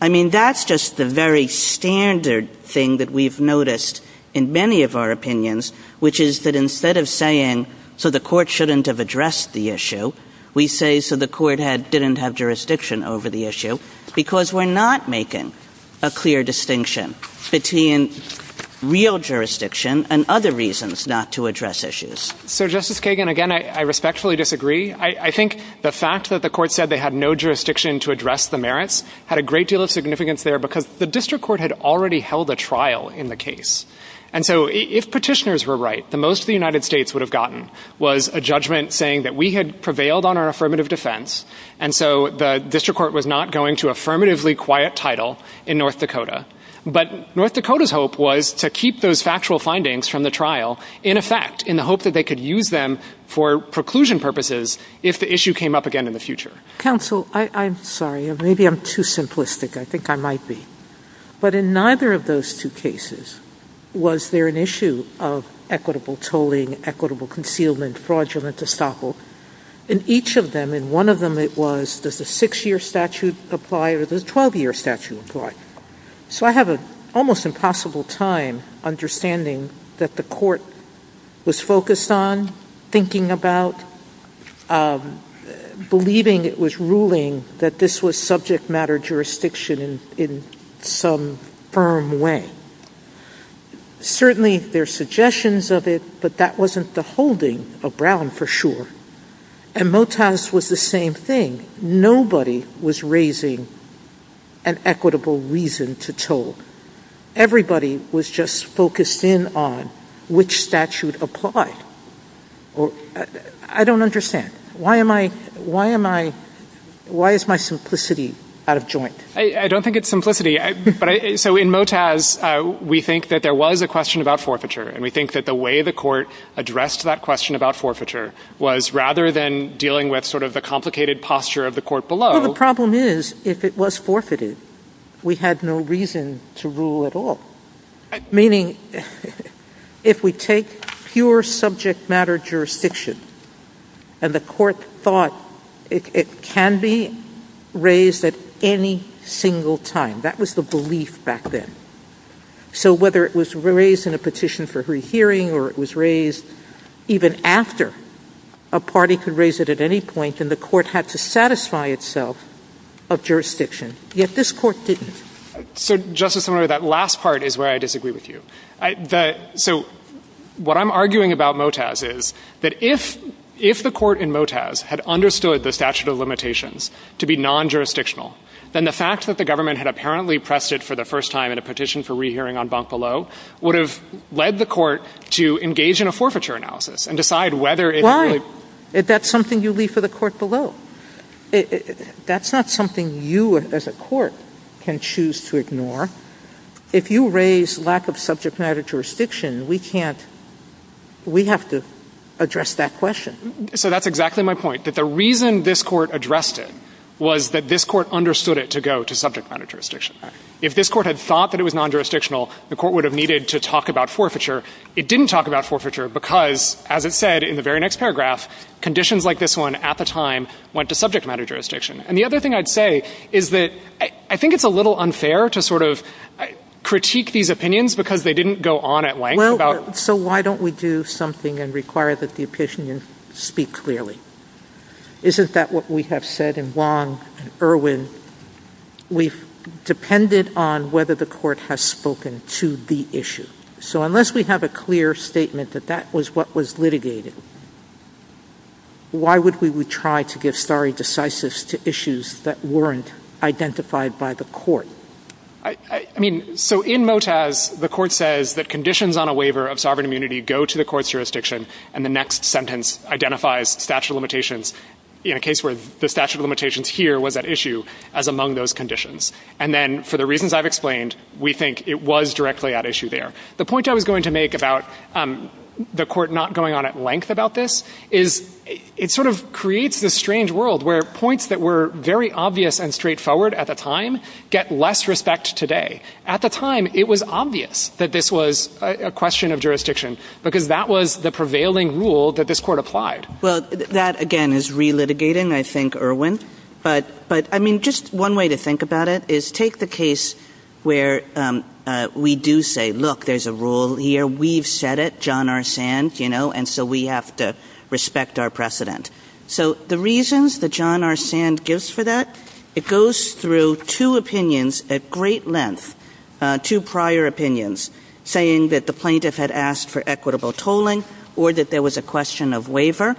I mean, that's just the very standard thing that we've noticed in many of our opinions, which is that instead of saying, so the court shouldn't have addressed the issue, we say, so the court didn't have jurisdiction over the issue because we're not making a clear distinction between real jurisdiction and other reasons not to address issues. So Justice Kagan, again, I respectfully disagree. I think the fact that the court said they had no jurisdiction to address the merits had a great deal of significance there because the district court had already held a trial in the case. And so if petitioners were right, the most the United States would have gotten was a defense. And so the district court was not going to affirmatively quiet title in North Dakota. But North Dakota's hope was to keep those factual findings from the trial in effect in the hope that they could use them for preclusion purposes if the issue came up again in the future. Counsel, I'm sorry. Maybe I'm too simplistic. I think I might be. But in neither of those two cases, was there an issue of equitable tolling, equitable concealment, fraudulent estoppel? In each of them, in one of them it was, does the six-year statute apply or does the 12-year statute apply? So I have an almost impossible time understanding that the court was focused on, thinking about, believing it was ruling that this was subject matter jurisdiction in some firm way. Certainly, there are suggestions of it, but that wasn't the holding of Brown for sure. And Motaz was the same thing. Nobody was raising an equitable reason to toll. Everybody was just focused in on which statute applied. I don't understand. Why am I, why is my simplicity out of joint? I don't think it's simplicity. So in Motaz, we think that there was a question about forfeiture, and we think that the way the court addressed that question about forfeiture was rather than dealing with sort of the complicated posture of the court below. Well, the problem is, if it was forfeited, we had no reason to rule at all, meaning, if we take pure subject matter jurisdiction and the court thought it can be raised at any single time, that was the belief back then. So whether it was raised in a petition for rehearing, or it was raised even after a party could raise it at any point, and the court had to satisfy itself of jurisdiction, yet this court didn't. So, Justice Sotomayor, that last part is where I disagree with you. So what I'm arguing about Motaz is that if the court in Motaz had understood the statute of limitations to be non-jurisdictional, then the fact that the government had apparently pressed it for the first time in a petition for rehearing on Banc Below would have led the court to engage in a forfeiture analysis and decide whether it really— Why? If that's something you leave for the court below? That's not something you, as a court, can choose to ignore. If you raise lack of subject matter jurisdiction, we can't—we have to address that question. So that's exactly my point, that the reason this court addressed it was that this court understood it to go to subject matter jurisdiction. If this court had thought that it was non-jurisdictional, the court would have needed to talk about forfeiture. It didn't talk about forfeiture because, as it said in the very next paragraph, conditions like this one at the time went to subject matter jurisdiction. And the other thing I'd say is that I think it's a little unfair to sort of critique these opinions because they didn't go on at length about— Isn't that what we have said in Wong and Irwin? We've depended on whether the court has spoken to the issue. So unless we have a clear statement that that was what was litigated, why would we try to give stare decisis to issues that weren't identified by the court? I mean, so in Motaz, the court says that conditions on a waiver of sovereign immunity go to the statute of limitations in a case where the statute of limitations here was at issue as among those conditions. And then, for the reasons I've explained, we think it was directly at issue there. The point I was going to make about the court not going on at length about this is it sort of creates this strange world where points that were very obvious and straightforward at the time get less respect today. At the time, it was obvious that this was a question of jurisdiction because that was the prevailing rule that this court applied. Well, that, again, is relitigating, I think, Irwin. But I mean, just one way to think about it is take the case where we do say, look, there's a rule here, we've said it, John R. Sand, you know, and so we have to respect our precedent. So the reasons that John R. Sand gives for that, it goes through two opinions at great length, two prior opinions, saying that the plaintiff had asked for equitable tolling or that there was a question of waiver.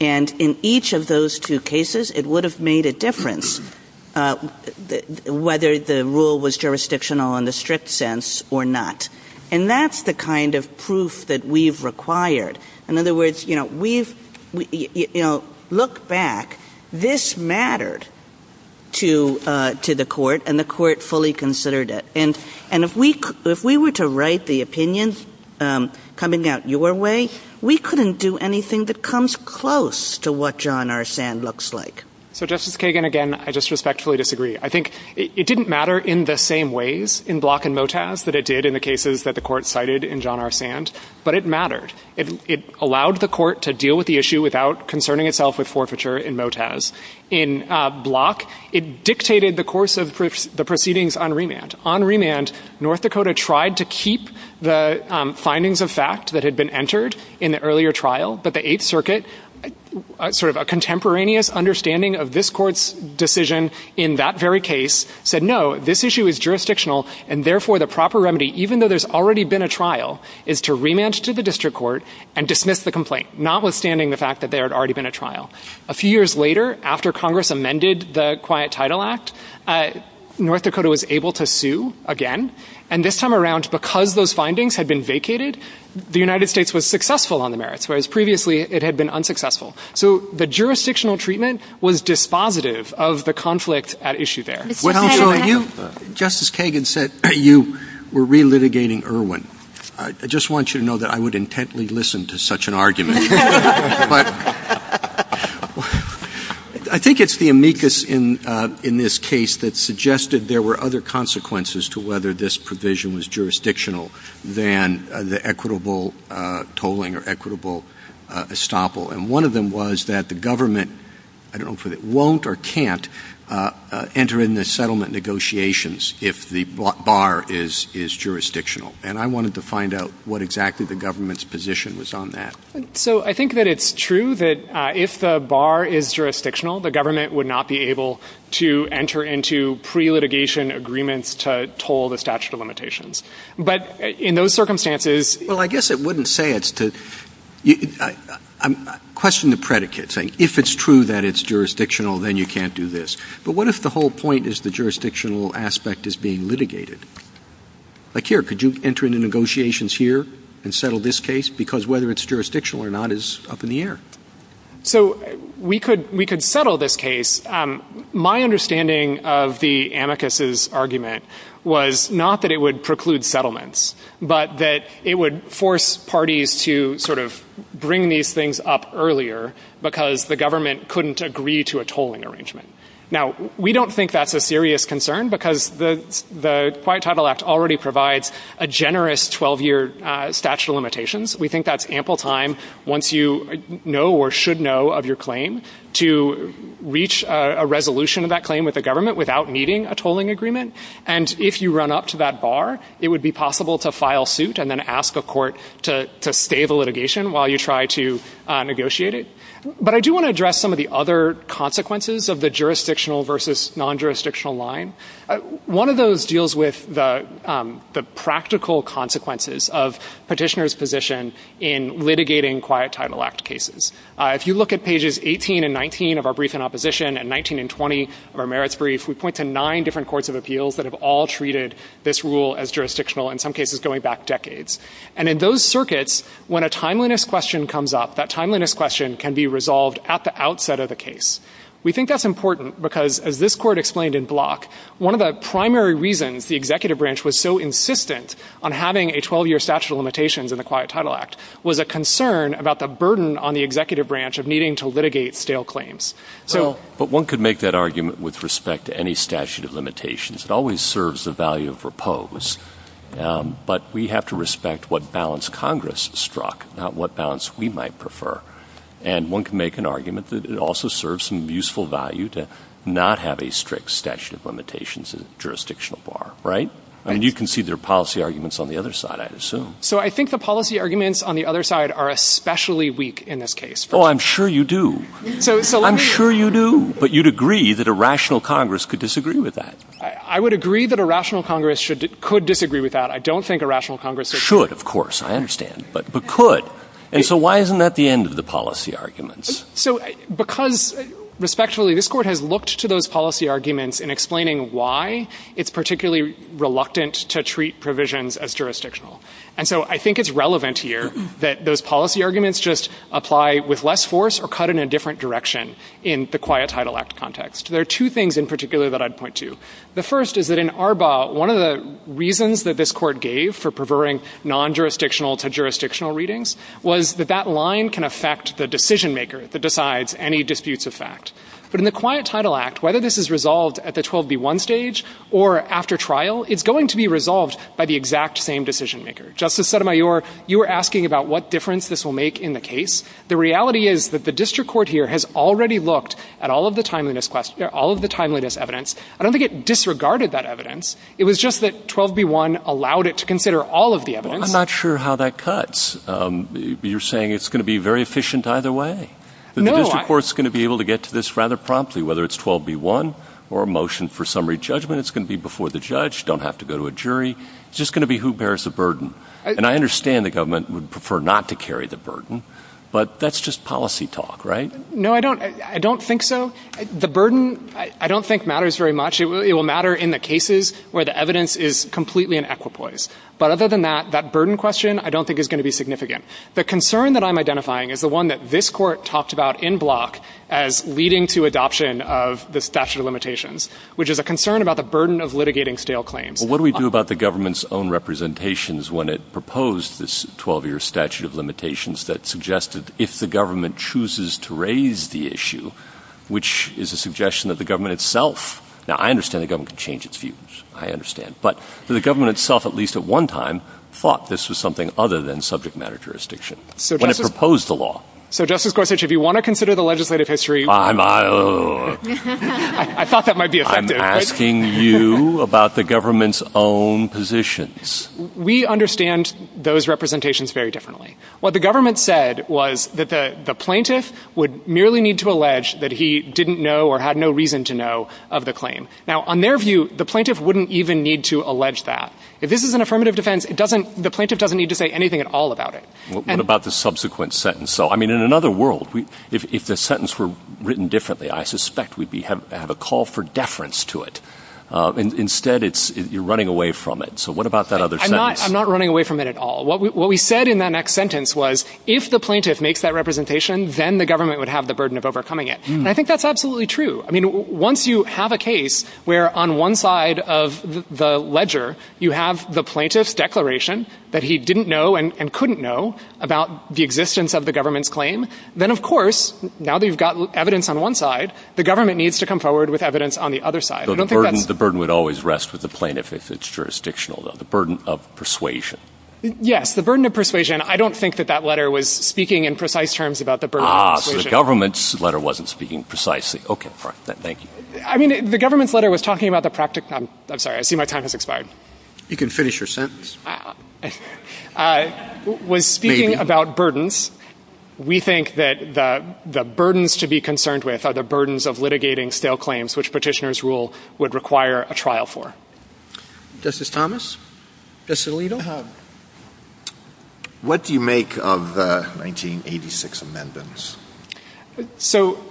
And in each of those two cases, it would have made a difference whether the rule was jurisdictional in the strict sense or not. And that's the kind of proof that we've required. In other words, you know, we've, you know, look back. This mattered to the court, and the court fully considered it. And if we were to write the opinion coming out your way, we couldn't do anything that comes close to what John R. Sand looks like. So Justice Kagan, again, I just respectfully disagree. I think it didn't matter in the same ways in Block and Motaz that it did in the cases that the court cited in John R. Sand, but it mattered. It allowed the court to deal with the issue without concerning itself with forfeiture in Motaz. In Block, it dictated the course of the proceedings on remand. On remand, North Dakota tried to keep the findings of fact that had been entered in the earlier trial, but the Eighth Circuit, sort of a contemporaneous understanding of this court's decision in that very case, said, no, this issue is jurisdictional, and therefore the proper remedy, even though there's already been a trial, is to remand to the district court and dismiss the complaint, notwithstanding the fact that there had already been a trial. A few years later, after Congress amended the Quiet Title Act, North Dakota was able to sue again, and this time around, because those findings had been vacated, the United States was successful on the merits, whereas previously it had been unsuccessful. So the jurisdictional treatment was dispositive of the conflict at issue there. Justice Kagan said you were relitigating Irwin. I just want you to know that I would intently listen to such an argument. But I think it's the amicus in this case that suggested there were other consequences to whether this provision was jurisdictional than the equitable tolling or equitable estoppel. And one of them was that the government, I don't know if it won't or can't, enter in the settlement negotiations if the bar is jurisdictional. And I wanted to find out what exactly the government's position was on that. So I think that it's true that if the bar is jurisdictional, the government would not be able to enter into pre-litigation agreements to toll the statute of limitations. But in those circumstances- Well, I guess it wouldn't say it's to- question the predicate, saying if it's true that it's jurisdictional, then you can't do this. But what if the whole point is the jurisdictional aspect is being litigated? Like here, could you enter into negotiations here and settle this case? Because whether it's jurisdictional or not is up in the air. So we could settle this case. My understanding of the amicus's argument was not that it would preclude settlements, but that it would force parties to sort of bring these things up earlier because the government couldn't agree to a tolling arrangement. Now, we don't think that's a serious concern because the quite frankly, the Right Title Act already provides a generous 12-year statute of limitations. We think that's ample time once you know or should know of your claim to reach a resolution of that claim with the government without meeting a tolling agreement. And if you run up to that bar, it would be possible to file suit and then ask a court to stay the litigation while you try to negotiate it. But I do want to address some of the other consequences of the jurisdictional versus non-jurisdictional line. One of those deals with the practical consequences of petitioners' position in litigating Quiet Title Act cases. If you look at pages 18 and 19 of our brief in opposition and 19 and 20 of our merits brief, we point to nine different courts of appeals that have all treated this rule as jurisdictional, in some cases going back decades. And in those circuits, when a timeliness question comes up, that timeliness question can be resolved at the outset of the case. We think that's important because, as this court explained in Block, one of the primary reasons the executive branch was so insistent on having a 12-year statute of limitations in the Quiet Title Act was a concern about the burden on the executive branch of needing to litigate stale claims. So — Well, but one could make that argument with respect to any statute of limitations. It always serves the value of repose. But we have to respect what balance Congress struck, not what balance we might prefer. And one can make an argument that it also serves some useful value to not have a strict statute of limitations as a jurisdictional bar. Right? I mean, you can see there are policy arguments on the other side, I'd assume. So I think the policy arguments on the other side are especially weak in this case. Oh, I'm sure you do. I'm sure you do. But you'd agree that a rational Congress could disagree with that. I would agree that a rational Congress should — could disagree with that. I don't think a rational Congress — Should, of course. I understand. But could. And so why isn't that the end of the policy arguments? So because, respectfully, this Court has looked to those policy arguments in explaining why it's particularly reluctant to treat provisions as jurisdictional. And so I think it's relevant here that those policy arguments just apply with less force or cut in a different direction in the Quiet Title Act context. There are two things in particular that I'd point to. The first is that in Arbaugh, one of the reasons that this Court gave for was that that line can affect the decision-maker that decides any disputes of fact. But in the Quiet Title Act, whether this is resolved at the 12b1 stage or after trial, it's going to be resolved by the exact same decision-maker. Justice Sotomayor, you were asking about what difference this will make in the case. The reality is that the district court here has already looked at all of the timeliness — all of the timeliness evidence. I don't think it disregarded that evidence. I'm not sure how that cuts. You're saying it's going to be very efficient either way? No, I — The district court's going to be able to get to this rather promptly, whether it's 12b1 or a motion for summary judgment. It's going to be before the judge. You don't have to go to a jury. It's just going to be who bears the burden. And I understand the government would prefer not to carry the burden, but that's just policy talk, right? No, I don't — I don't think so. The burden, I don't think, matters very much. It will matter in the cases where the evidence is completely in equipoise. But other than that, that burden question, I don't think, is going to be significant. The concern that I'm identifying is the one that this Court talked about in Block as leading to adoption of the statute of limitations, which is a concern about the burden of litigating stale claims. Well, what do we do about the government's own representations when it proposed this 12-year statute of limitations that suggested if the government chooses to raise the issue, which is a suggestion that the government itself — now, I understand the government can change its views. I understand. But the government itself, at least at one time, thought this was something other than subject matter jurisdiction when it proposed the law. So, Justice Gorsuch, if you want to consider the legislative history — I'm — I thought that might be effective. I'm asking you about the government's own positions. We understand those representations very differently. What the government said was that the plaintiff would merely need to allege that he didn't know or had no reason to know of the claim. Now, on their view, the plaintiff wouldn't even need to allege that. If this is an affirmative defense, it doesn't — the plaintiff doesn't need to say anything at all about it. What about the subsequent sentence? So, I mean, in another world, if the sentence were written differently, I suspect we'd be — have a call for deference to it. Instead, it's — you're running away from it. So what about that other sentence? I'm not running away from it at all. What we said in that next sentence was if the plaintiff makes that representation, then the government would have the burden of overcoming it. And I think that's absolutely true. I mean, once you have a case where on one side of the ledger you have the plaintiff's declaration that he didn't know and couldn't know about the existence of the government's claim, then, of course, now that you've got evidence on one side, the government needs to come forward with evidence on the other side. I don't think that's — The burden would always rest with the plaintiff if it's jurisdictional, though. The burden of persuasion. Yes. The burden of persuasion. I don't think that that letter was speaking in precise terms about the burden of persuasion. Ah, so the government's letter wasn't speaking precisely. Okay, thank you. I mean, the government's letter was talking about the — I'm sorry, I see my time has expired. You can finish your sentence. I was speaking about burdens. We think that the burdens to be concerned with are the burdens of litigating stale claims, which Petitioner's rule would require a trial for. Justice Thomas, Justice Alito, what do you make of the 1986 amendments? So,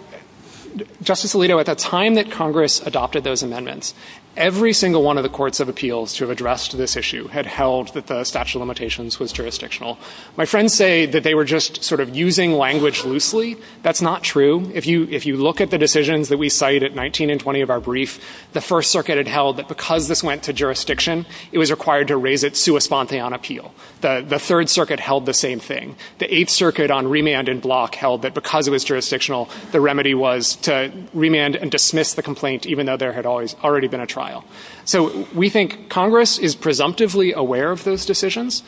Justice Alito, at the time that Congress adopted those amendments, every single one of the courts of appeals to have addressed this issue had held that the statute of limitations was jurisdictional. My friends say that they were just sort of using language loosely. That's not true. If you look at the decisions that we cite at 19 and 20 of our brief, the First Circuit had held that because this went to jurisdiction, it was required to raise it sui spontane on appeal. The Third Circuit held the same thing. The Eighth Circuit on remand and block held that because it was jurisdictional, the remedy was to remand and dismiss the complaint, even though there had already been a trial. So, we think Congress is presumptively aware of those decisions.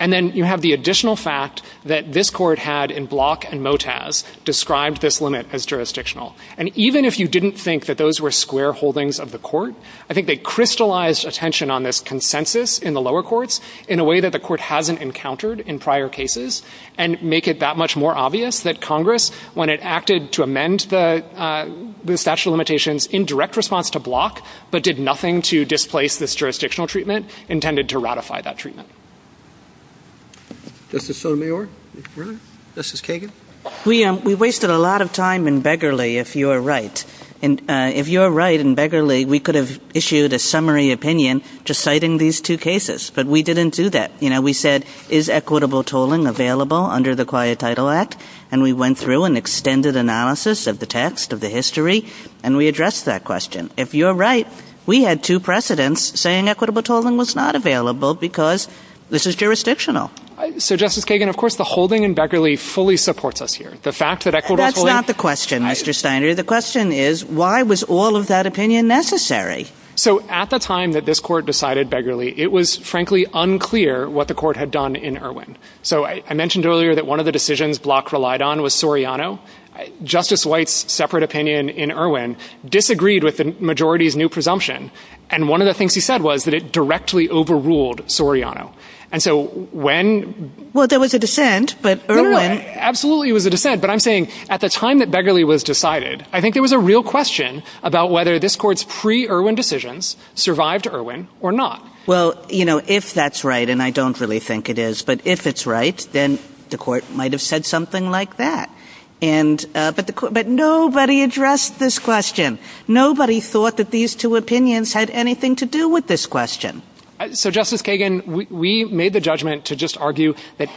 And then you have the additional fact that this court had, in Block and Motaz, described this limit as jurisdictional. And even if you didn't think that those were square holdings of the court, I think that the court hasn't encountered in prior cases and make it that much more obvious that Congress, when it acted to amend the statute of limitations in direct response to Block, but did nothing to displace this jurisdictional treatment, intended to ratify that treatment. Justice Sotomayor? Really? Justice Kagan? We wasted a lot of time in Begley, if you're right. And if you're right in Begley, we could have issued a summary opinion just citing these two cases. But we didn't do that. You know, we said, is equitable tolling available under the Quiet Title Act? And we went through an extended analysis of the text, of the history, and we addressed that question. If you're right, we had two precedents saying equitable tolling was not available because this is jurisdictional. So, Justice Kagan, of course, the holding in Begley fully supports us here. The fact that equitable tolling That's not the question, Mr. Steiner. The question is, why was all of that opinion necessary? So, at the time that this court decided Begley, it was, frankly, unclear what the court had done in Irwin. So, I mentioned earlier that one of the decisions Block relied on was Soriano. Justice White's separate opinion in Irwin disagreed with the majority's new presumption. And one of the things he said was that it directly overruled Soriano. And so, when Well, there was a dissent, but Irwin Absolutely, it was a dissent. But I'm saying, at the time that Begley was decided, I think there was a real about whether this court's pre-Irwin decisions survived Irwin or not. Well, you know, if that's right, and I don't really think it is, but if it's right, then the court might have said something like that. And, but nobody addressed this question. Nobody thought that these two opinions had anything to do with this question. So, Justice Kagan, we made the judgment to just argue that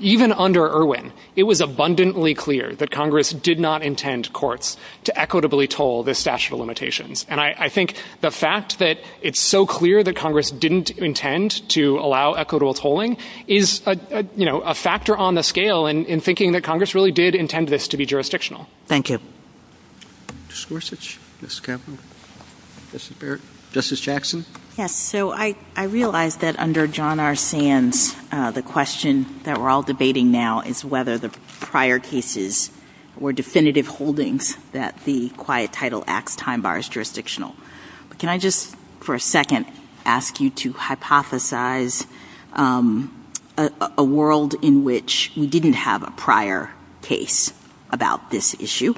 even under Irwin, it was abundantly clear that Congress did not intend courts to equitably toll the statute of limitations. And I, I think the fact that it's so clear that Congress didn't intend to allow equitable tolling is a, you know, a factor on the scale in, in thinking that Congress really did intend this to be jurisdictional. Thank you. Justice Gorsuch. Yes, Captain. Justice Barrett. Justice Jackson. Yes, so I, I realized that under John R. Sands, the question that we're all debating now is whether the prior cases were definitive holdings that the quiet title acts time bar is jurisdictional. Can I just, for a second, ask you to hypothesize a world in which we didn't have a prior case about this issue.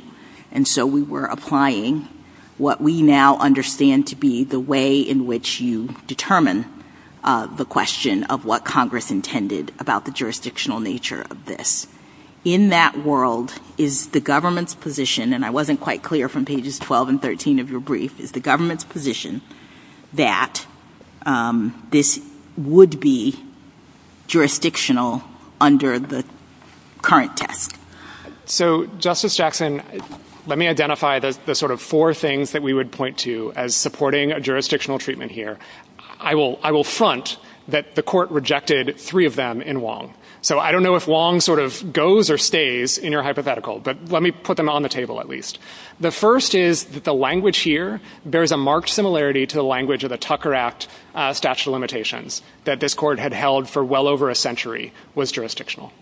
And so we were applying what we now understand to be the way in which you were applying what Congress intended about the jurisdictional nature of this. In that world, is the government's position, and I wasn't quite clear from pages 12 and 13 of your brief, is the government's position that this would be jurisdictional under the current test? So, Justice Jackson, let me identify the, the sort of four things that we would point to as supporting a jurisdictional treatment here. I will, I will front that the court rejected three of them in Wong. So I don't know if Wong sort of goes or stays in your hypothetical, but let me put them on the table at least. The first is that the language here bears a marked similarity to the language of the Tucker Act statute of limitations that this court had held for well over a century was jurisdictional.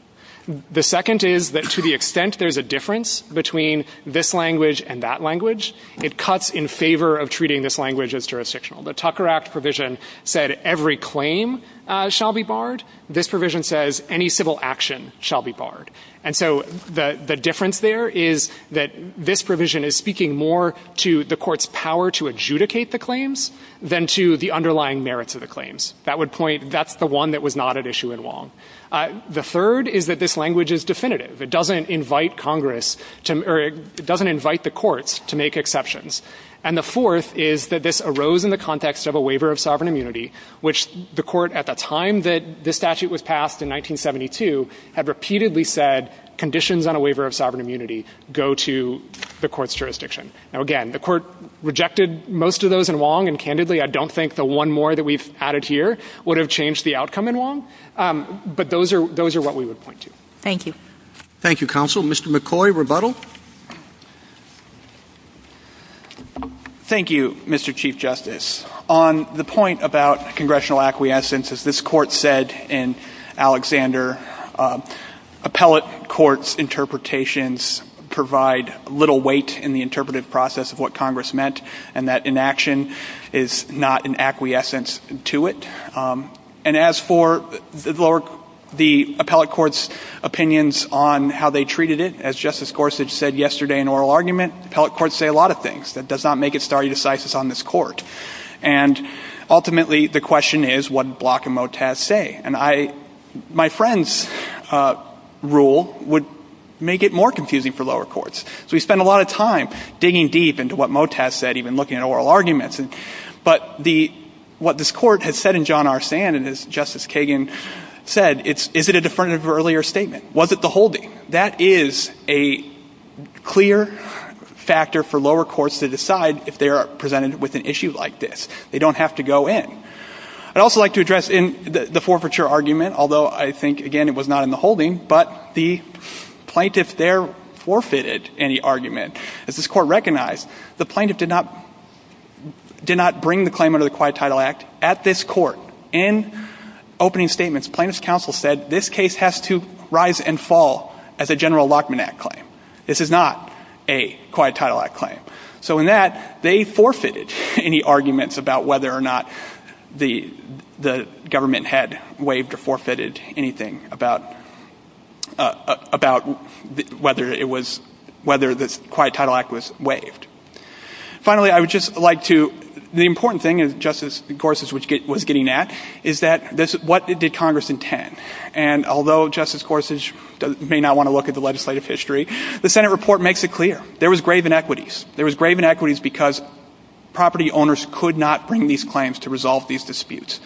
The second is that to the extent there's a difference between this language and that language, it cuts in favor of treating this language as jurisdictional. The Tucker Act provision said every claim shall be barred. This provision says any civil action shall be barred. And so the, the difference there is that this provision is speaking more to the court's power to adjudicate the claims than to the underlying merits of the claims. That would point, that's the one that was not at issue in Wong. The third is that this language is definitive. It doesn't invite Congress to, or it doesn't invite the courts to make exceptions. And the fourth is that this arose in the context of a waiver of sovereign immunity, which the court at the time that this statute was passed in 1972 had repeatedly said conditions on a waiver of sovereign immunity go to the court's jurisdiction. Now again, the court rejected most of those in Wong, and candidly, I don't think the one more that we've added here would have changed the outcome in Wong, but those are, those are what we would point to. Thank you, counsel. Mr. McCoy, rebuttal. Thank you, Mr. Chief Justice. On the point about congressional acquiescence, as this court said in Alexander, appellate court's interpretations provide little weight in the interpretive process of what Congress meant, and that inaction is not an acquiescence to it. And as for the lower, the appellate court's opinions on how they treated it, as Justice Gorsuch said yesterday in oral argument, appellate courts say a lot of things that does not make it stare decisis on this court. And ultimately, the question is, what did Block and Motaz say? And I, my friend's rule would make it more confusing for lower courts. So we spend a lot of time digging deep into what Motaz said, even looking at oral arguments. But the, what this court has said in John R. Sand, and as Justice Kagan said, it's, is it a definitive earlier statement? Was it the holding? That is a clear factor for lower courts to decide if they are presented with an issue like this. They don't have to go in. I'd also like to address in the, the forfeiture argument, although I think, again, it was not in the holding, but the plaintiff there forfeited any argument. As this court recognized, the plaintiff did not, did not bring the claim under the Quiet Title Act at this court. In opening statements, plaintiff's counsel said, this case has to rise and fall as a General Lockman Act claim. This is not a Quiet Title Act claim. So in that, they forfeited any arguments about whether or not the, the government had waived or forfeited anything about, about whether it was, whether this Quiet Title Act was waived. Finally, I would just like to, the important thing is, Justice Corsage was getting at, is that this, what did Congress intend? And although Justice Corsage may not want to look at the legislative history, the Senate report makes it clear. There was grave inequities. There was grave inequities because property owners could not bring these claims to resolve these disputes.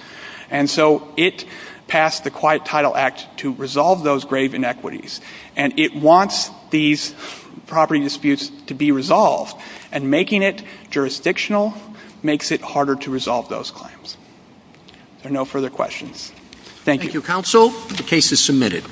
And so it passed the Quiet Title Act to resolve those grave inequities. And it wants these property disputes to be resolved. And making it jurisdictional makes it harder to resolve those claims. There are no further questions. Thank you. Thank you, counsel. The case is submitted.